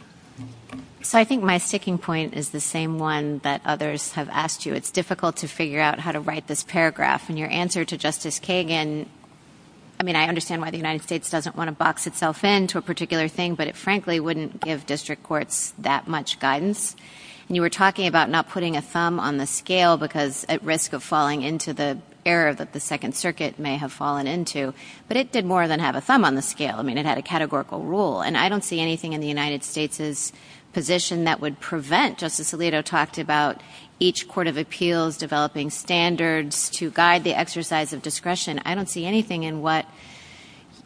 So I think my sticking point is the same one that others have asked you. It's difficult to figure out how to write this paragraph. And your answer to Justice Kagan, I mean, I understand why the United States doesn't want to box itself in to a particular thing, but it frankly wouldn't give district courts that much guidance. And you were talking about not putting a thumb on the scale because at risk of falling into the error that the Second Circuit may have fallen into. But it did more than have a thumb on the scale. I mean, it had a categorical rule. And I don't see anything in the United States' position that would prevent, Justice Alito talked about each court of appeals developing standards to guide the exercise of discretion. I don't see anything in what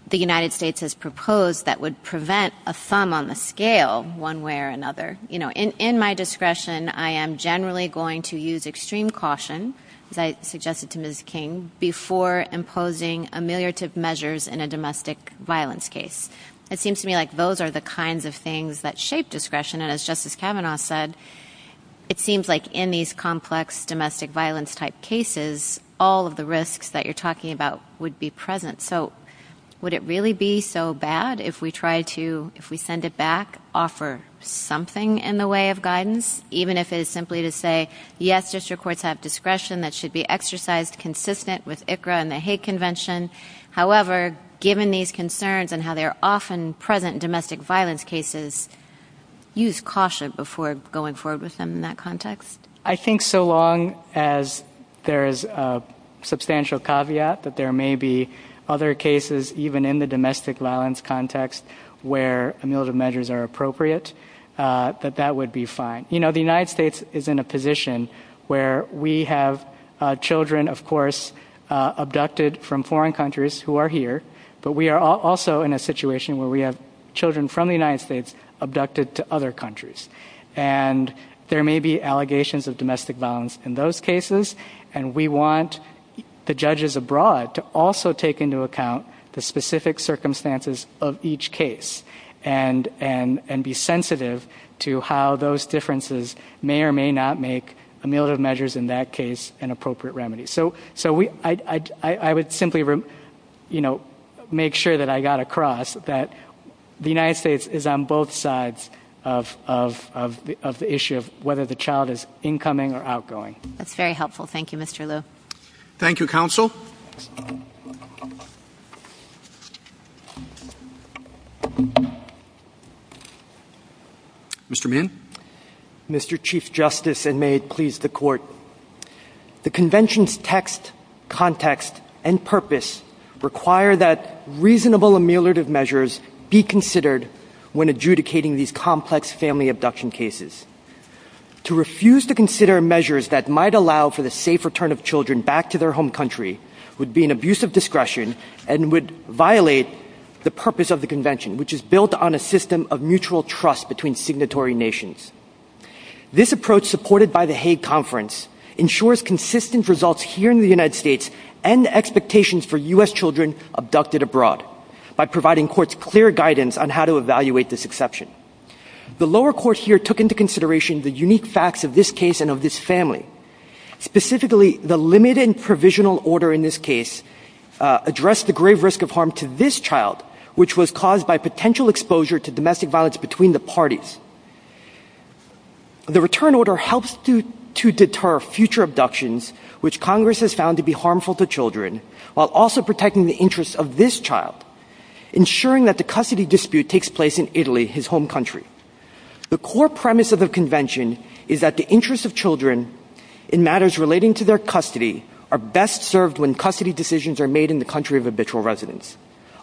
the United States has proposed that would prevent a thumb on the scale one way or another. In my discretion, I am generally going to use extreme caution, as I suggested to Ms. King, before imposing ameliorative measures in a domestic violence case. It seems to me like those are the kinds of things that shape discretion. And as Justice Kavanaugh said, it seems like in these complex domestic violence-type cases, all of the risks that you're talking about would be present. So would it really be so bad if we try to, if we send it back, offer something in the way of guidance? Even if it is simply to say, yes, district courts have discretion that should be exercised consistent with ICRA and the Hague Convention. However, given these concerns and how they're often present in domestic violence cases, use caution before going forward with them in that context. I think so long as there is a substantial caveat that there may be other cases, even in the domestic violence context where ameliorative measures are appropriate, that that would be fine. You know, the United States is in a position where we have children, of course, abducted from foreign countries who are here, but we are also in a situation where we have children from the United States abducted to other countries. And there may be allegations of domestic violence in those cases, and we want the judges abroad to also take into account the specific circumstances of each case and be sensitive to how those differences may or may not make ameliorative measures in that case an appropriate remedy. So I would simply, you know, make sure that I got across that the United States is on both sides of the issue of whether the child is incoming or outgoing. That's very helpful. Thank you, Mr. Liu. Thank you, Counsel. Mr. Meehan. Mr. Chief Justice, and may it please the Court, the Convention's text, context, and purpose require that reasonable ameliorative measures be considered when adjudicating these complex family abduction cases. To refuse to consider measures that might allow for the safe return of children back to their home country would be an abuse of discretion and would violate the purpose of the Convention, which is built on a system of mutual trust between signatory nations. This approach, supported by the Hague Conference, ensures consistent results here in the United States and expectations for U.S. children abducted abroad by providing courts clear guidance on how to evaluate this exception. The lower court here took into consideration the unique facts of this case and of this family. Specifically, the limited provisional order in this case addressed the grave risk of harm to this child, which was caused by potential exposure to domestic violence between the parties. The return order helps to deter future abductions, which Congress has found to be harmful to children, while also protecting the interests of this child, ensuring that the custody dispute takes place in Italy, his home country. The core premise of the Convention is that the interests of children in matters relating to their custody are best served when custody decisions are made in the country of habitual residence.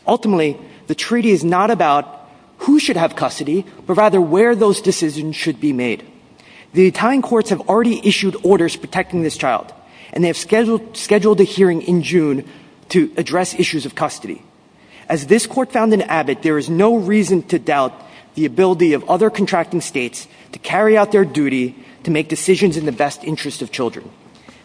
Ultimately, the treaty is not about who should have custody, but rather where those decisions should be made. The Italian courts have already issued orders protecting this child, and they have scheduled a hearing in June to address issues of custody. As this court found in Abbott, there is no reason to doubt the ability of other contracting states to carry out their duty to make decisions in the best interest of children.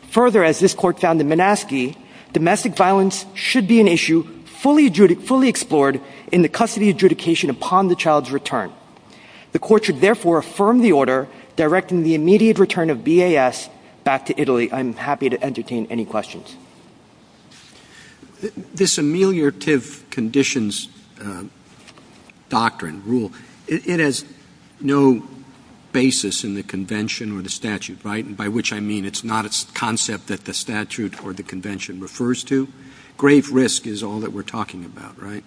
Further, as this court found in Minaski, domestic violence should be an issue fully explored in the custody adjudication upon the child's return. The court should therefore affirm the order directing the immediate return of BAS back to Italy. I'm happy to entertain any questions. This ameliorative conditions doctrine, rule, it has no basis in the Convention or the statute, right? And by which I mean it's not a concept that the statute or the Convention refers to. Grave risk is all that we're talking about, right?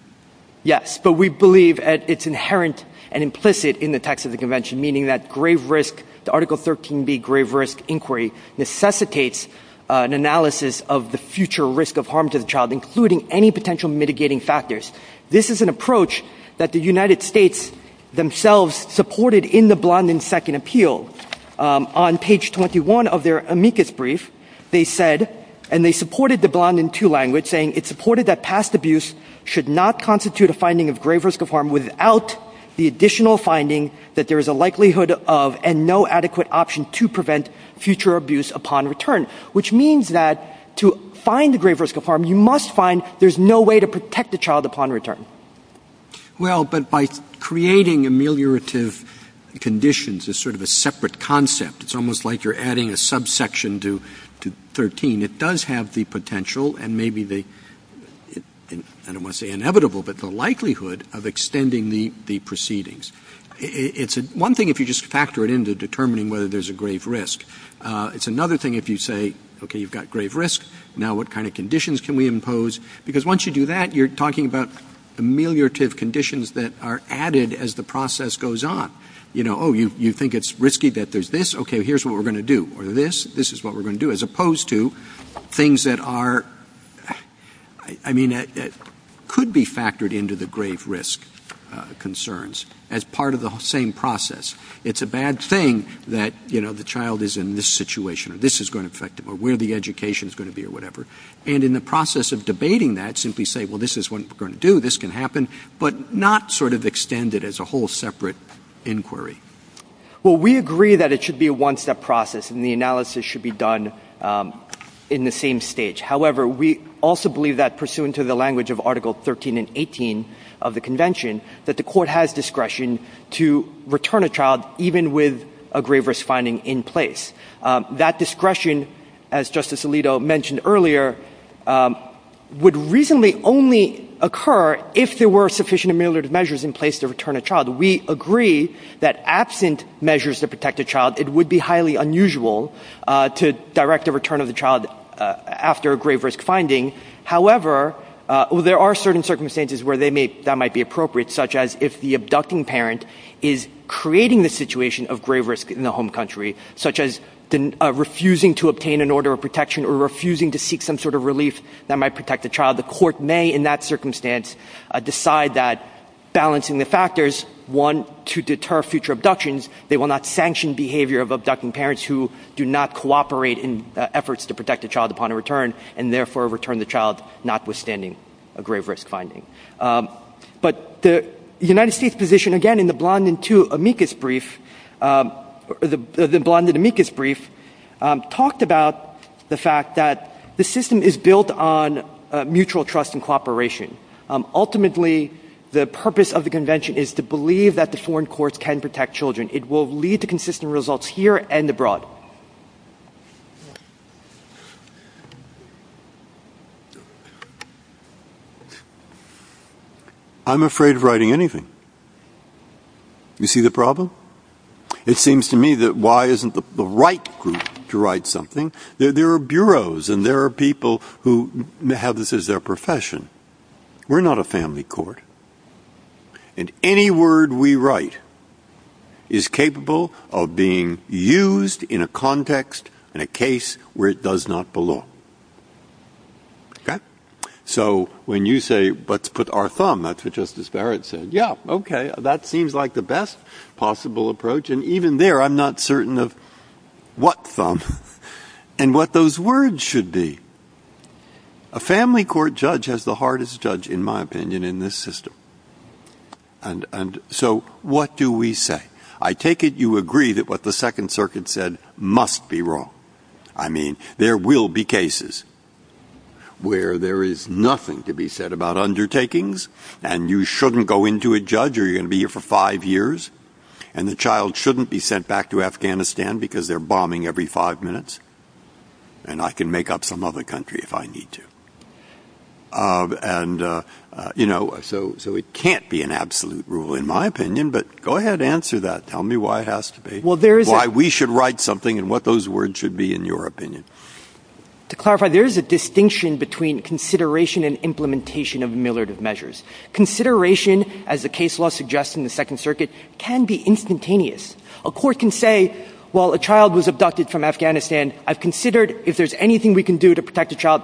Yes, but we believe it's inherent and implicit in the text of the Convention, meaning that the Article 13b grave risk inquiry necessitates an analysis of the future risk of harm to the child, including any potential mitigating factors. This is an approach that the United States themselves supported in the Blondin Second Appeal. On page 21 of their amicus brief, they said, and they supported the Blondin II language, saying it supported that past abuse should not constitute a finding of grave risk of harm without the additional finding that there is a likelihood of and no adequate option to prevent future abuse upon return, which means that to find a grave risk of harm, you must find there's no way to protect the child upon return. Well, but by creating ameliorative conditions as sort of a separate concept, it's almost like you're adding a subsection to 13. It does have the potential and maybe the, I don't want to say inevitable, but the likelihood of extending the proceedings. It's one thing if you just factor it into determining whether there's a grave risk. It's another thing if you say, okay, you've got grave risk, now what kind of conditions can we impose? Because once you do that, you're talking about ameliorative conditions that are added as the process goes on. You know, oh, you think it's risky that there's this? Okay, here's what we're going to do. Or this, this is what we're going to do, as opposed to things that are, I mean, that could be factored into the grave risk concerns as part of the same process. It's a bad thing that, you know, the child is in this situation and this is going to affect them or where the education is going to be or whatever. And in the process of debating that, simply say, well, this is what we're going to do, this can happen, but not sort of extend it as a whole separate inquiry. Well, we agree that it should be a one-step process and the analysis should be done in the same stage. However, we also believe that pursuant to the language of Article 13 and 18 of the convention, that the court has discretion to return a child even with a grave risk finding in place. That discretion, as Justice Alito mentioned earlier, would reasonably only occur if there were sufficient ameliorative measures in place to return a child. We agree that absent measures to protect a child, it would be highly unusual to direct a return of the child after a grave risk finding. However, there are certain circumstances where that might be appropriate, such as if the abducting parent is creating the situation of grave risk in the home country, such as refusing to obtain an order of protection or refusing to seek some sort of relief that might protect the child. The court may, in that circumstance, decide that balancing the factors, one, to deter future abductions. They will not sanction behavior of abducting parents who do not cooperate in efforts to protect a child upon a return and therefore return the child notwithstanding a grave risk finding. But the United States position, again, in the Blondin II amicus brief, the Blondin amicus brief, talked about the fact that the system is built on mutual trust and cooperation. Ultimately, the purpose of the convention is to believe that the foreign courts can protect children. It will lead to consistent results here and abroad. I'm afraid of writing anything. You see the problem? It seems to me that why isn't the right group to write something? There are bureaus and there are people who have this as their profession. We're not a family court. And any word we write is capable of being used in a context, in a case, where it does not belong. Okay? So when you say, let's put our thumb, that's what Justice Barrett said. Yeah, okay. That seems like the best possible approach. And even there, I'm not certain of what thumb and what those words should be. A family court judge has the hardest judge, in my opinion, in this system. And so what do we say? I take it you agree that what the Second Circuit said must be wrong. I mean, there will be cases where there is nothing to be said about undertakings. And you shouldn't go into a judge. You're going to be here for five years. And the child shouldn't be sent back to Afghanistan because they're bombing every five minutes. And I can make up some other country if I need to. So it can't be an absolute rule, in my opinion. But go ahead, answer that. Tell me why it has to be. Why we should write something and what those words should be, in your opinion. To clarify, there is a distinction between consideration and implementation of militant measures. Consideration, as the case law suggests in the Second Circuit, can be instantaneous. A court can say, well, a child was abducted from Afghanistan. I've considered if there's anything we can do to protect the child.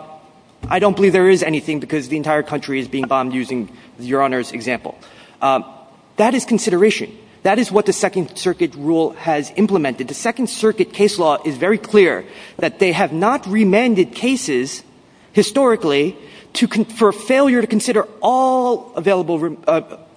I don't believe there is anything because the entire country is being bombed, using Your Honor's example. That is consideration. That is what the Second Circuit rule has implemented. The Second Circuit case law is very clear that they have not remanded cases, historically, for failure to consider all available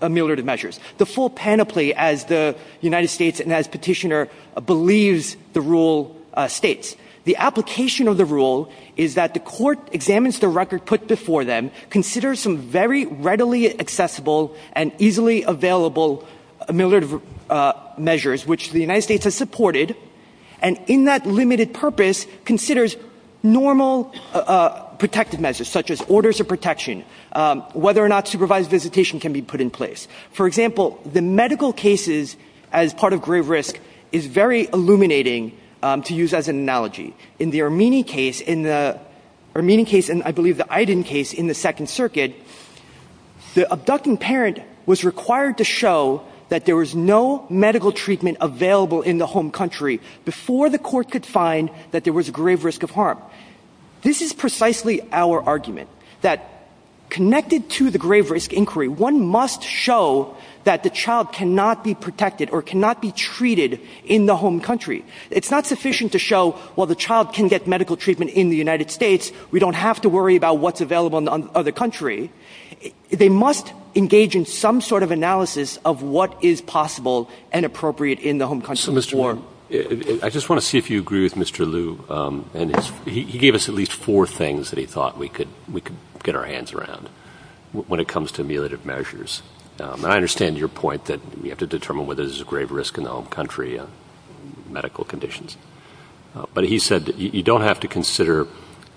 militant measures. The full panoply, as the United States and as Petitioner believes the rule states. The application of the rule is that the court examines the record put before them, considers some very readily accessible and easily available militant measures, which the United States has supported, and in that limited purpose, considers normal protective measures, such as orders of protection, whether or not supervised visitation can be put in place. For example, the medical cases, as part of grave risk, is very illuminating to use as an analogy. In the Armenian case, and I believe the Aydin case in the Second Circuit, the abducted parent was required to show that there was no medical treatment available in the home country before the court could find that there was grave risk of harm. This is precisely our argument, that connected to the grave risk inquiry, one must show that the child cannot be protected or cannot be treated in the home country. It's not sufficient to show, while the child can get medical treatment in the United States, we don't have to worry about what's available in the other country. They must engage in some sort of analysis of what is possible and appropriate in the home country. I just want to see if you agree with Mr. Liu. He gave us at least four things that he thought we could get our hands around when it comes to militant measures. I understand your point that we have to determine whether there's grave risk in the home country and medical conditions. But he said that you don't have to consider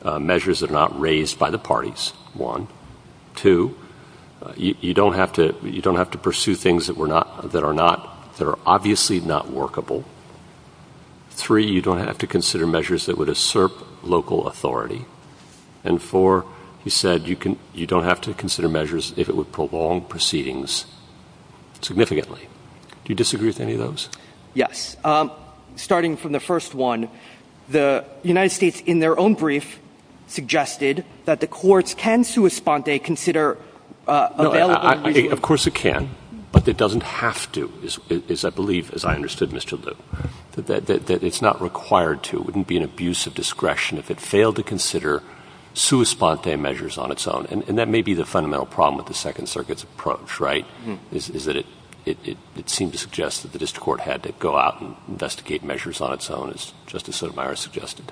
measures that are not raised by the parties, one. Two, you don't have to pursue things that are obviously not workable. Three, you don't have to consider measures that would assert local authority. And four, he said you don't have to consider measures if it would prolong proceedings significantly. Do you disagree with any of those? Yes. Starting from the first one, the United States, in their own brief, suggested that the courts can sui sponte, consider available... Of course it can. But it doesn't have to, as I believe, as I understood, Mr. Liu. It's not required to. It wouldn't be an abuse of discretion if it failed to consider sui sponte measures on its own. And that may be the fundamental problem with the Second Circuit's approach, right, is that it seemed to suggest that the district court had to go out and investigate measures on its own, as Justice Sotomayor suggested.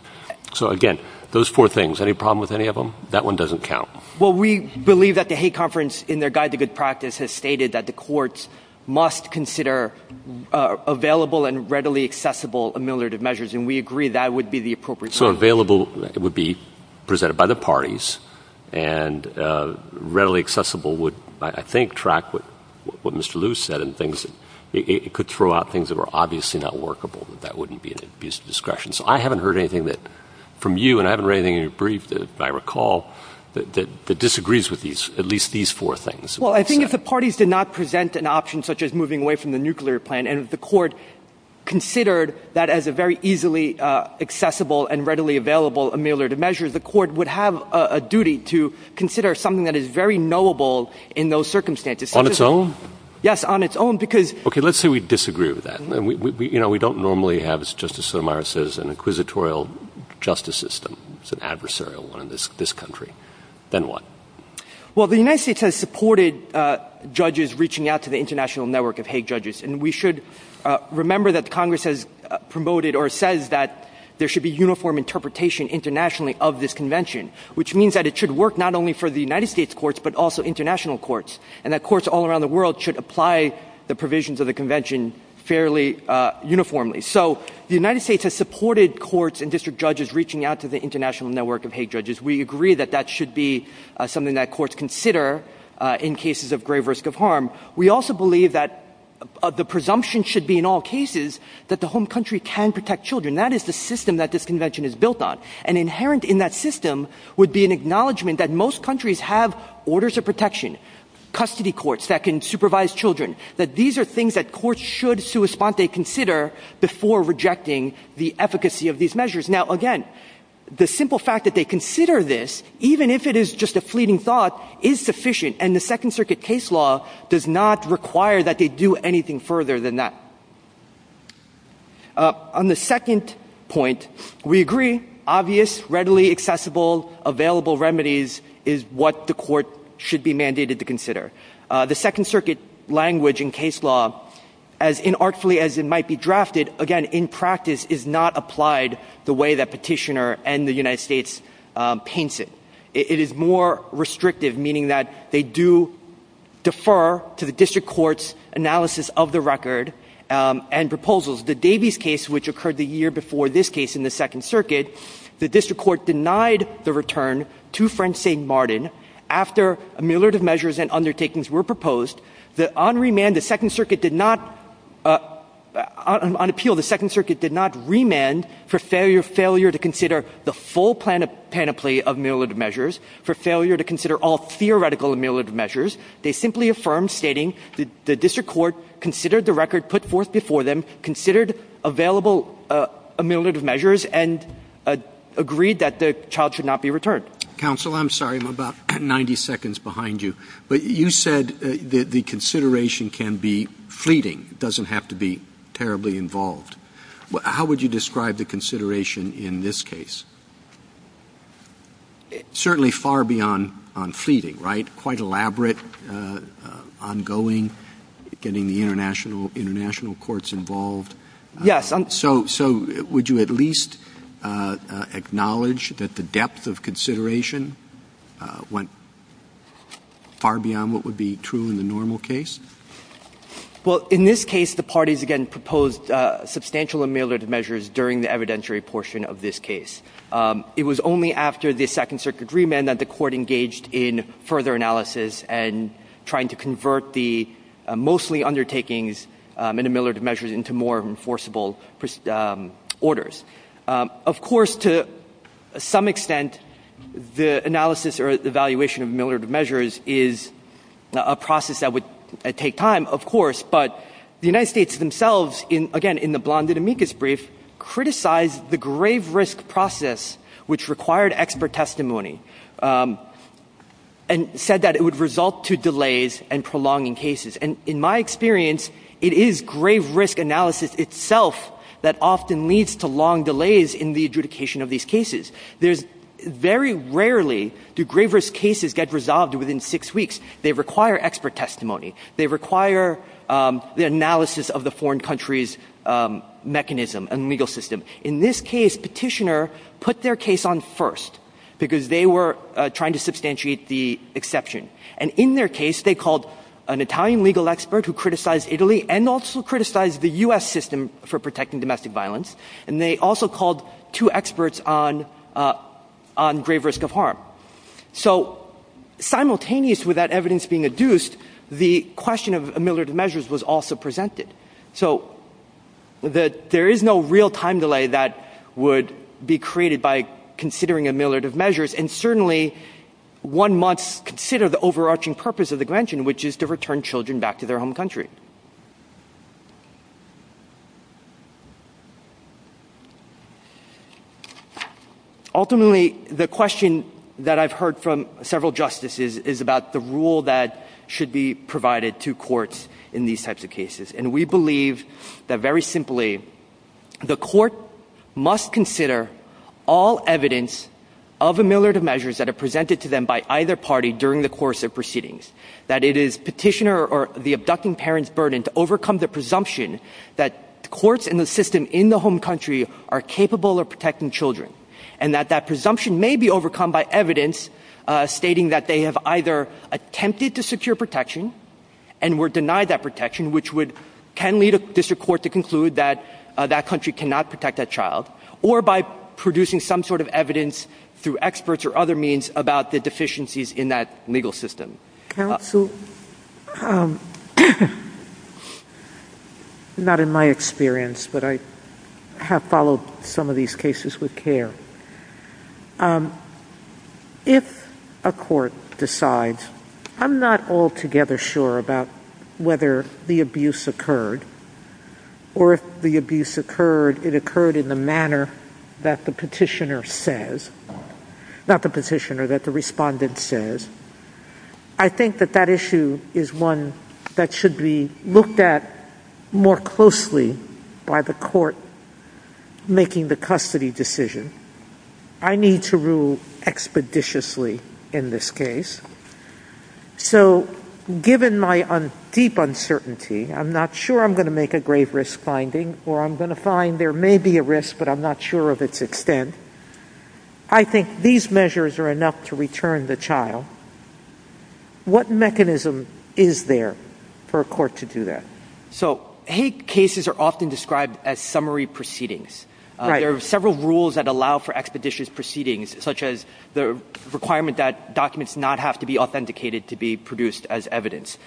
So, again, those four things. Any problem with any of them? That one doesn't count. Well, we believe that the Hague Conference, in their Guide to Good Practice, has stated that the courts must consider available and readily accessible ameliorative measures. And we agree that would be the appropriate measure. So available would be presented by the parties, and readily accessible would, I think, track what Mr. Liu said, and it could throw out things that were obviously not workable. That wouldn't be an abuse of discretion. So I haven't heard anything from you, and I haven't read anything in your brief, if I recall, that disagrees with at least these four things. Well, I think if the parties did not present an option such as moving away from the nuclear plan, and if the court considered that as a very easily accessible and readily available ameliorative measure, the court would have a duty to consider something that is very knowable in those circumstances. On its own? Yes, on its own. Okay, let's say we disagree with that. You know, we don't normally have, as Justice Sotomayor says, an inquisitorial justice system. It's an adversarial one in this country. Then what? Well, the United States has supported judges reaching out to the international network of Hague judges, and we should remember that Congress has promoted or says that there should be uniform interpretation internationally of this convention, which means that it should work not only for the United States courts but also international courts, and that courts all around the world should apply the provisions of the convention fairly uniformly. So the United States has supported courts and district judges reaching out to the international network of Hague judges. We agree that that should be something that courts consider in cases of grave risk of harm. We also believe that the presumption should be in all cases that the home country can protect children. That is the system that this convention is built on, and inherent in that system would be an acknowledgment that most countries have orders of protection, custody courts that can supervise children, that these are things that courts should sui sponte consider before rejecting the efficacy of these measures. Now, again, the simple fact that they consider this, even if it is just a fleeting thought, is sufficient, and the Second Circuit case law does not require that they do anything further than that. On the second point, we agree obvious, readily accessible, available remedies is what the court should be mandated to consider. The Second Circuit language in case law, as inartfully as it might be drafted, again, in practice, is not applied the way that Petitioner and the United States paints it. It is more restrictive, meaning that they do defer to the district court's analysis of the record and proposals. The Davies case, which occurred the year before this case in the Second Circuit, the district court denied the return to French St. Martin after ameliorative measures and undertakings were proposed. On remand, the Second Circuit did not, on appeal, the Second Circuit did not remand for failure to consider the full panoply of ameliorative measures, for failure to consider all theoretical ameliorative measures. They simply affirmed, stating the district court considered the record put forth before them, considered available ameliorative measures, and agreed that the child should not be returned. Counsel, I'm sorry. I'm about 90 seconds behind you. But you said that the consideration can be fleeting, doesn't have to be terribly involved. How would you describe the consideration in this case? Certainly far beyond fleeting, right? Quite elaborate, ongoing, getting the international courts involved. So would you at least acknowledge that the depth of consideration went far beyond what would be true in the normal case? Well, in this case, the parties again proposed substantial ameliorative measures during the evidentiary portion of this case. It was only after the Second Circuit remand that the court engaged in further analysis and trying to convert the mostly undertakings in ameliorative measures into more enforceable orders. Of course, to some extent, the analysis or evaluation of ameliorative measures is a process that would take time, of course. But the United States themselves, again, in the Blonde and Amicus brief, criticized the grave risk process which required expert testimony and said that it would result to delays and prolonging cases. And in my experience, it is grave risk analysis itself that often leads to long delays in the adjudication of these cases. Very rarely do grave risk cases get resolved within six weeks. They require expert testimony. They require the analysis of the foreign country's mechanism and legal system. In this case, Petitioner put their case on first because they were trying to substantiate the exception. And in their case, they called an Italian legal expert who criticized Italy and also criticized the U.S. system for protecting domestic violence, and they also called two experts on grave risk of harm. So simultaneous with that evidence being adduced, the question of ameliorative measures was also presented. So there is no real time delay that would be created by considering ameliorative measures, and certainly one must consider the overarching purpose of the grantion, which is to return children back to their home country. Ultimately, the question that I've heard from several justices is about the rule that should be provided to courts in these types of cases. And we believe that, very simply, the court must consider all evidence of ameliorative measures that are presented to them by either party during the course of proceedings, that it is Petitioner or the abducting parent's ability to do so, to overcome the presumption that courts in the system in the home country are capable of protecting children, and that that presumption may be overcome by evidence stating that they have either attempted to secure protection and were denied that protection, which can lead a district court to conclude that that country cannot protect that child, or by producing some sort of evidence through experts or other means about the deficiencies in that legal system. Not in my experience, but I have followed some of these cases with care. If a court decides, I'm not altogether sure about whether the abuse occurred, or if the abuse occurred in the manner that the Petitioner says, not the Petitioner, that the respondent says, I think that that issue is one that should be looked at more closely by the court making the custody decision. I need to rule expeditiously in this case. So, given my deep uncertainty, I'm not sure I'm going to make a grave risk finding, or I'm going to find there may be a risk, but I'm not sure of its extent. I think these measures are enough to return the child. What mechanism is there for a court to do that? So, hate cases are often described as summary proceedings. There are several rules that allow for expeditious proceedings, such as the requirement that documents not have to be authenticated to be produced as evidence.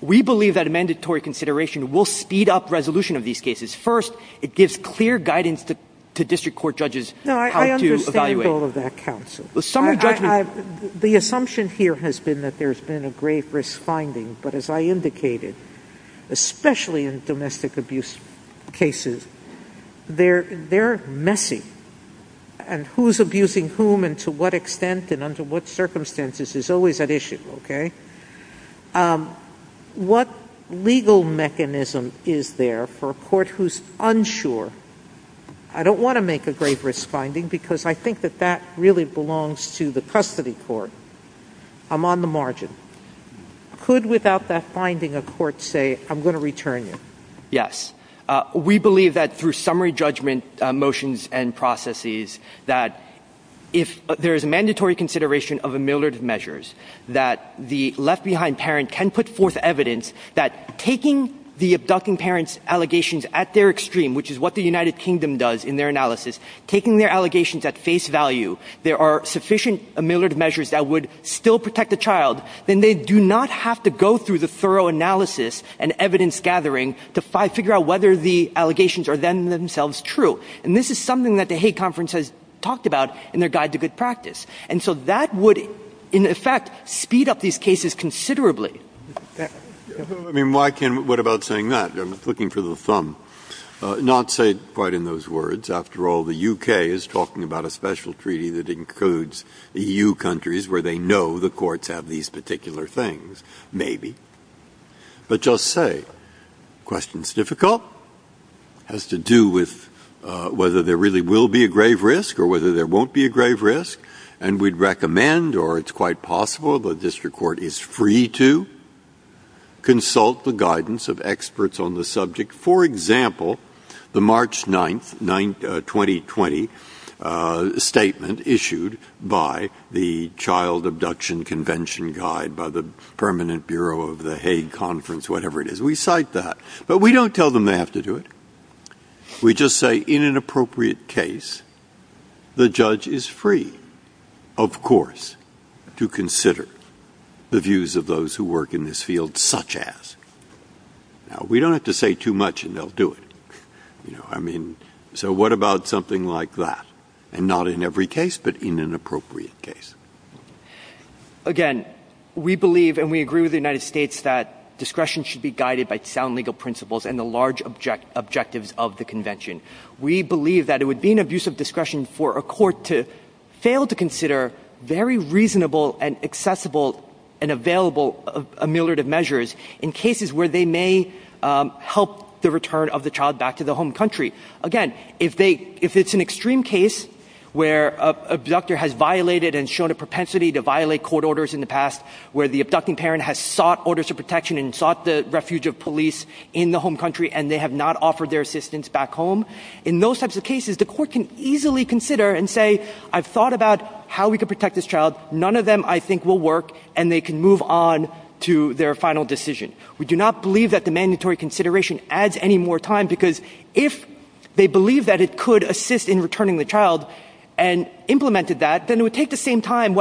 We believe that a mandatory consideration will speed up resolution of these cases. First, it gives clear guidance to district court judges how to evaluate. No, I understand all of that, counsel. The assumption here has been that there's been a grave risk finding, but as I indicated, especially in domestic abuse cases, they're messy. And who's abusing whom and to what extent and under what circumstances is always an issue, okay? What legal mechanism is there for a court who's unsure? I don't want to make a grave risk finding because I think that that really belongs to the custody court. I'm on the margin. Could, without that finding, a court say, I'm going to return you? Yes. We believe that through summary judgment motions and processes, that if there is mandatory consideration of a myriad of measures, that the left-behind parent can put forth evidence that taking the abducting parent's allegations at their extreme, which is what the United Kingdom does in their analysis, taking their allegations at face value, there are sufficient measures that would still protect the child, then they do not have to go through the thorough analysis and evidence-gathering to figure out whether the allegations are then themselves true. And this is something that the Hague Conference has talked about in their guide to good practice. And so that would, in effect, speed up these cases considerably. I mean, what about saying that? I'm looking for the thumb. Not say quite in those words. After all, the U.K. is talking about a special treaty that includes EU countries where they know the courts have these particular things, maybe. But just say. The question is difficult. It has to do with whether there really will be a grave risk or whether there won't be a grave risk. And we'd recommend, or it's quite possible the district court is free to, consult the guidance of experts on the subject. For example, the March 9, 2020, statement issued by the Child Abduction Convention Guide, by the Permanent Bureau of the Hague Conference, whatever it is, we cite that. But we don't tell them they have to do it. We just say, in an appropriate case, the judge is free, of course, to consider the views of those who work in this field, such as. Now, we don't have to say too much, and they'll do it. I mean, so what about something like that? And not in every case, but in an appropriate case. Again, we believe, and we agree with the United States, that discretion should be guided by sound legal principles and the large objectives of the convention. We believe that it would be an abuse of discretion for a court to fail to consider very reasonable and accessible and available ameliorative measures in cases where they may help the return of the child back to the home country. Again, if it's an extreme case where an abductor has violated and shown a propensity to violate court orders in the past, where the abducting parent has sought orders of protection and sought the refuge of police in the home country and they have not offered their assistance back home, in those types of cases, the court can easily consider and say, I've thought about how we can protect this child. None of them, I think, will work, and they can move on to their final decision. We do not believe that the mandatory consideration adds any more time, because if they believe that it could assist in returning the child and implemented that, and it would take the same time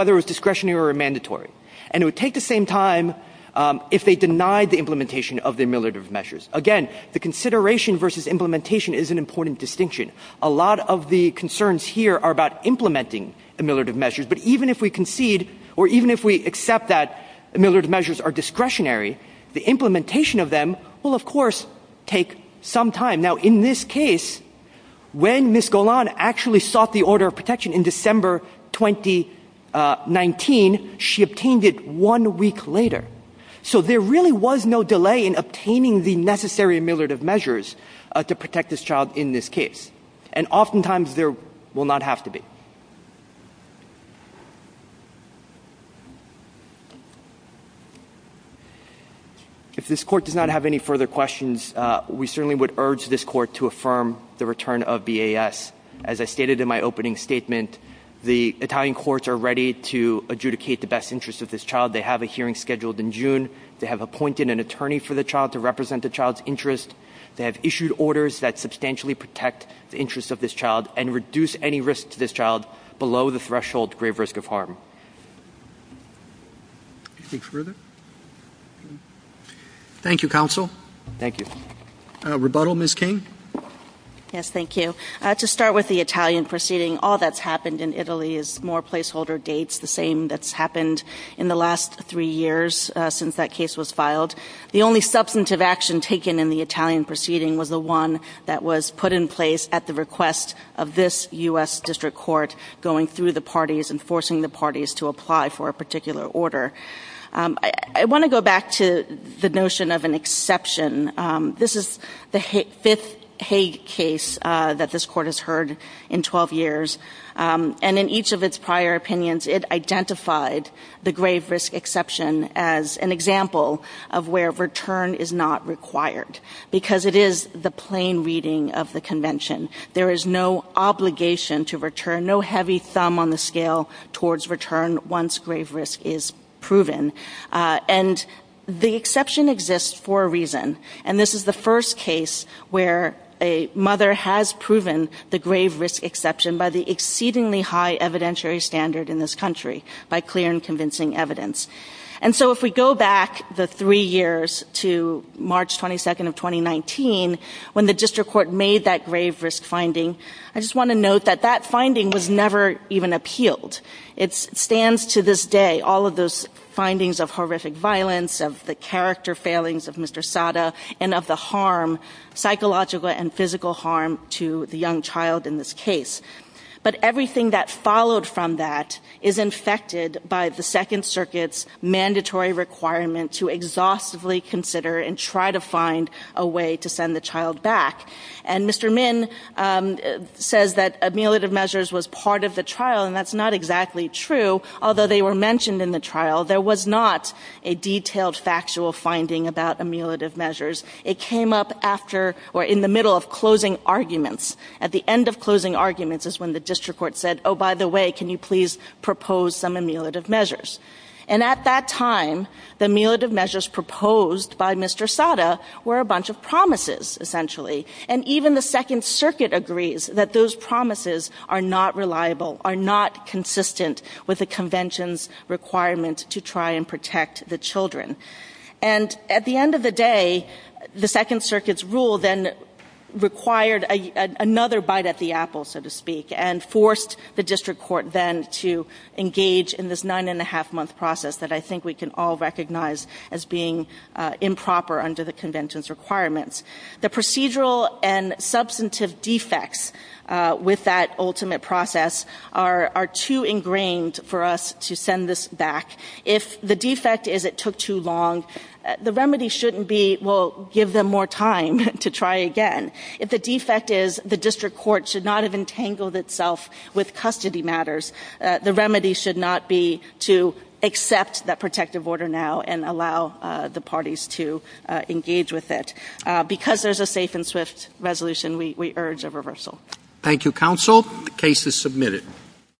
if they denied the implementation of the ameliorative measures. Again, the consideration versus implementation is an important distinction. A lot of the concerns here are about implementing ameliorative measures, but even if we concede or even if we accept that ameliorative measures are discretionary, the implementation of them will, of course, take some time. Now, in this case, when Ms. Golan actually sought the order of protection in December 2019, she obtained it one week later. So there really was no delay in obtaining the necessary ameliorative measures to protect this child in this case, and oftentimes there will not have to be. If this court does not have any further questions, we certainly would urge this court to affirm the return of VAS. As I stated in my opening statement, the Italian courts are ready to adjudicate the best interest of this child. They have a hearing scheduled in June. They have appointed an attorney for the child to represent the child's interest. They have issued orders that substantially protect the interest of this child and reduce any risk to this child below the threshold of grave risk of harm. Anything further? Thank you, counsel. Thank you. Rebuttal, Ms. King? Yes, thank you. To start with the Italian proceeding, all that's happened in Italy is more placeholder dates, the same that's happened in the last three years since that case was filed. The only substantive action taken in the Italian proceeding was the one that was put in place at the request of this U.S. District Court going through the parties and forcing the parties to apply for a particular order. I want to go back to the notion of an exception. This is the fifth Hague case that this court has heard in 12 years, and in each of its prior opinions it identified the grave risk exception as an example of where return is not required because it is the plain reading of the Convention. There is no obligation to return, no heavy thumb on the scale towards return once grave risk is proven. The exception exists for a reason, and this is the first case where a mother has proven the grave risk exception by the exceedingly high evidentiary standard in this country, by clear and convincing evidence. If we go back the three years to March 22nd of 2019, when the District Court made that grave risk finding, I just want to note that that finding was never even appealed. It stands to this day, all of those findings of horrific violence, of the character failings of Mr. Sada, and of the harm, psychological and physical harm, to the young child in this case. But everything that followed from that is infected by the Second Circuit's mandatory requirement to exhaustively consider and try to find a way to send the child back. And Mr. Min says that ameliorative measures was part of the trial, and that's not exactly true. Although they were mentioned in the trial, there was not a detailed factual finding about ameliorative measures. It came up after, or in the middle of, closing arguments. At the end of closing arguments is when the District Court said, oh, by the way, can you please propose some ameliorative measures? And at that time, the ameliorative measures proposed by Mr. Sada were a bunch of promises, essentially. And even the Second Circuit agrees that those promises are not reliable, are not consistent with the Convention's requirement to try and protect the children. And at the end of the day, the Second Circuit's rule then required another bite at the apple, so to speak, and forced the District Court then to engage in this nine-and-a-half-month process that I think we can all recognize as being improper under the Convention's requirements. The procedural and substantive defects with that ultimate process are too ingrained for us to send this back. If the defect is it took too long, the remedy shouldn't be, well, give them more time to try again. If the defect is the District Court should not have entangled itself with custody matters, the remedy should not be to accept that protective order now and allow the parties to engage with it. Because there's a safe and swift resolution, we urge a reversal. Thank you, counsel. The case is submitted.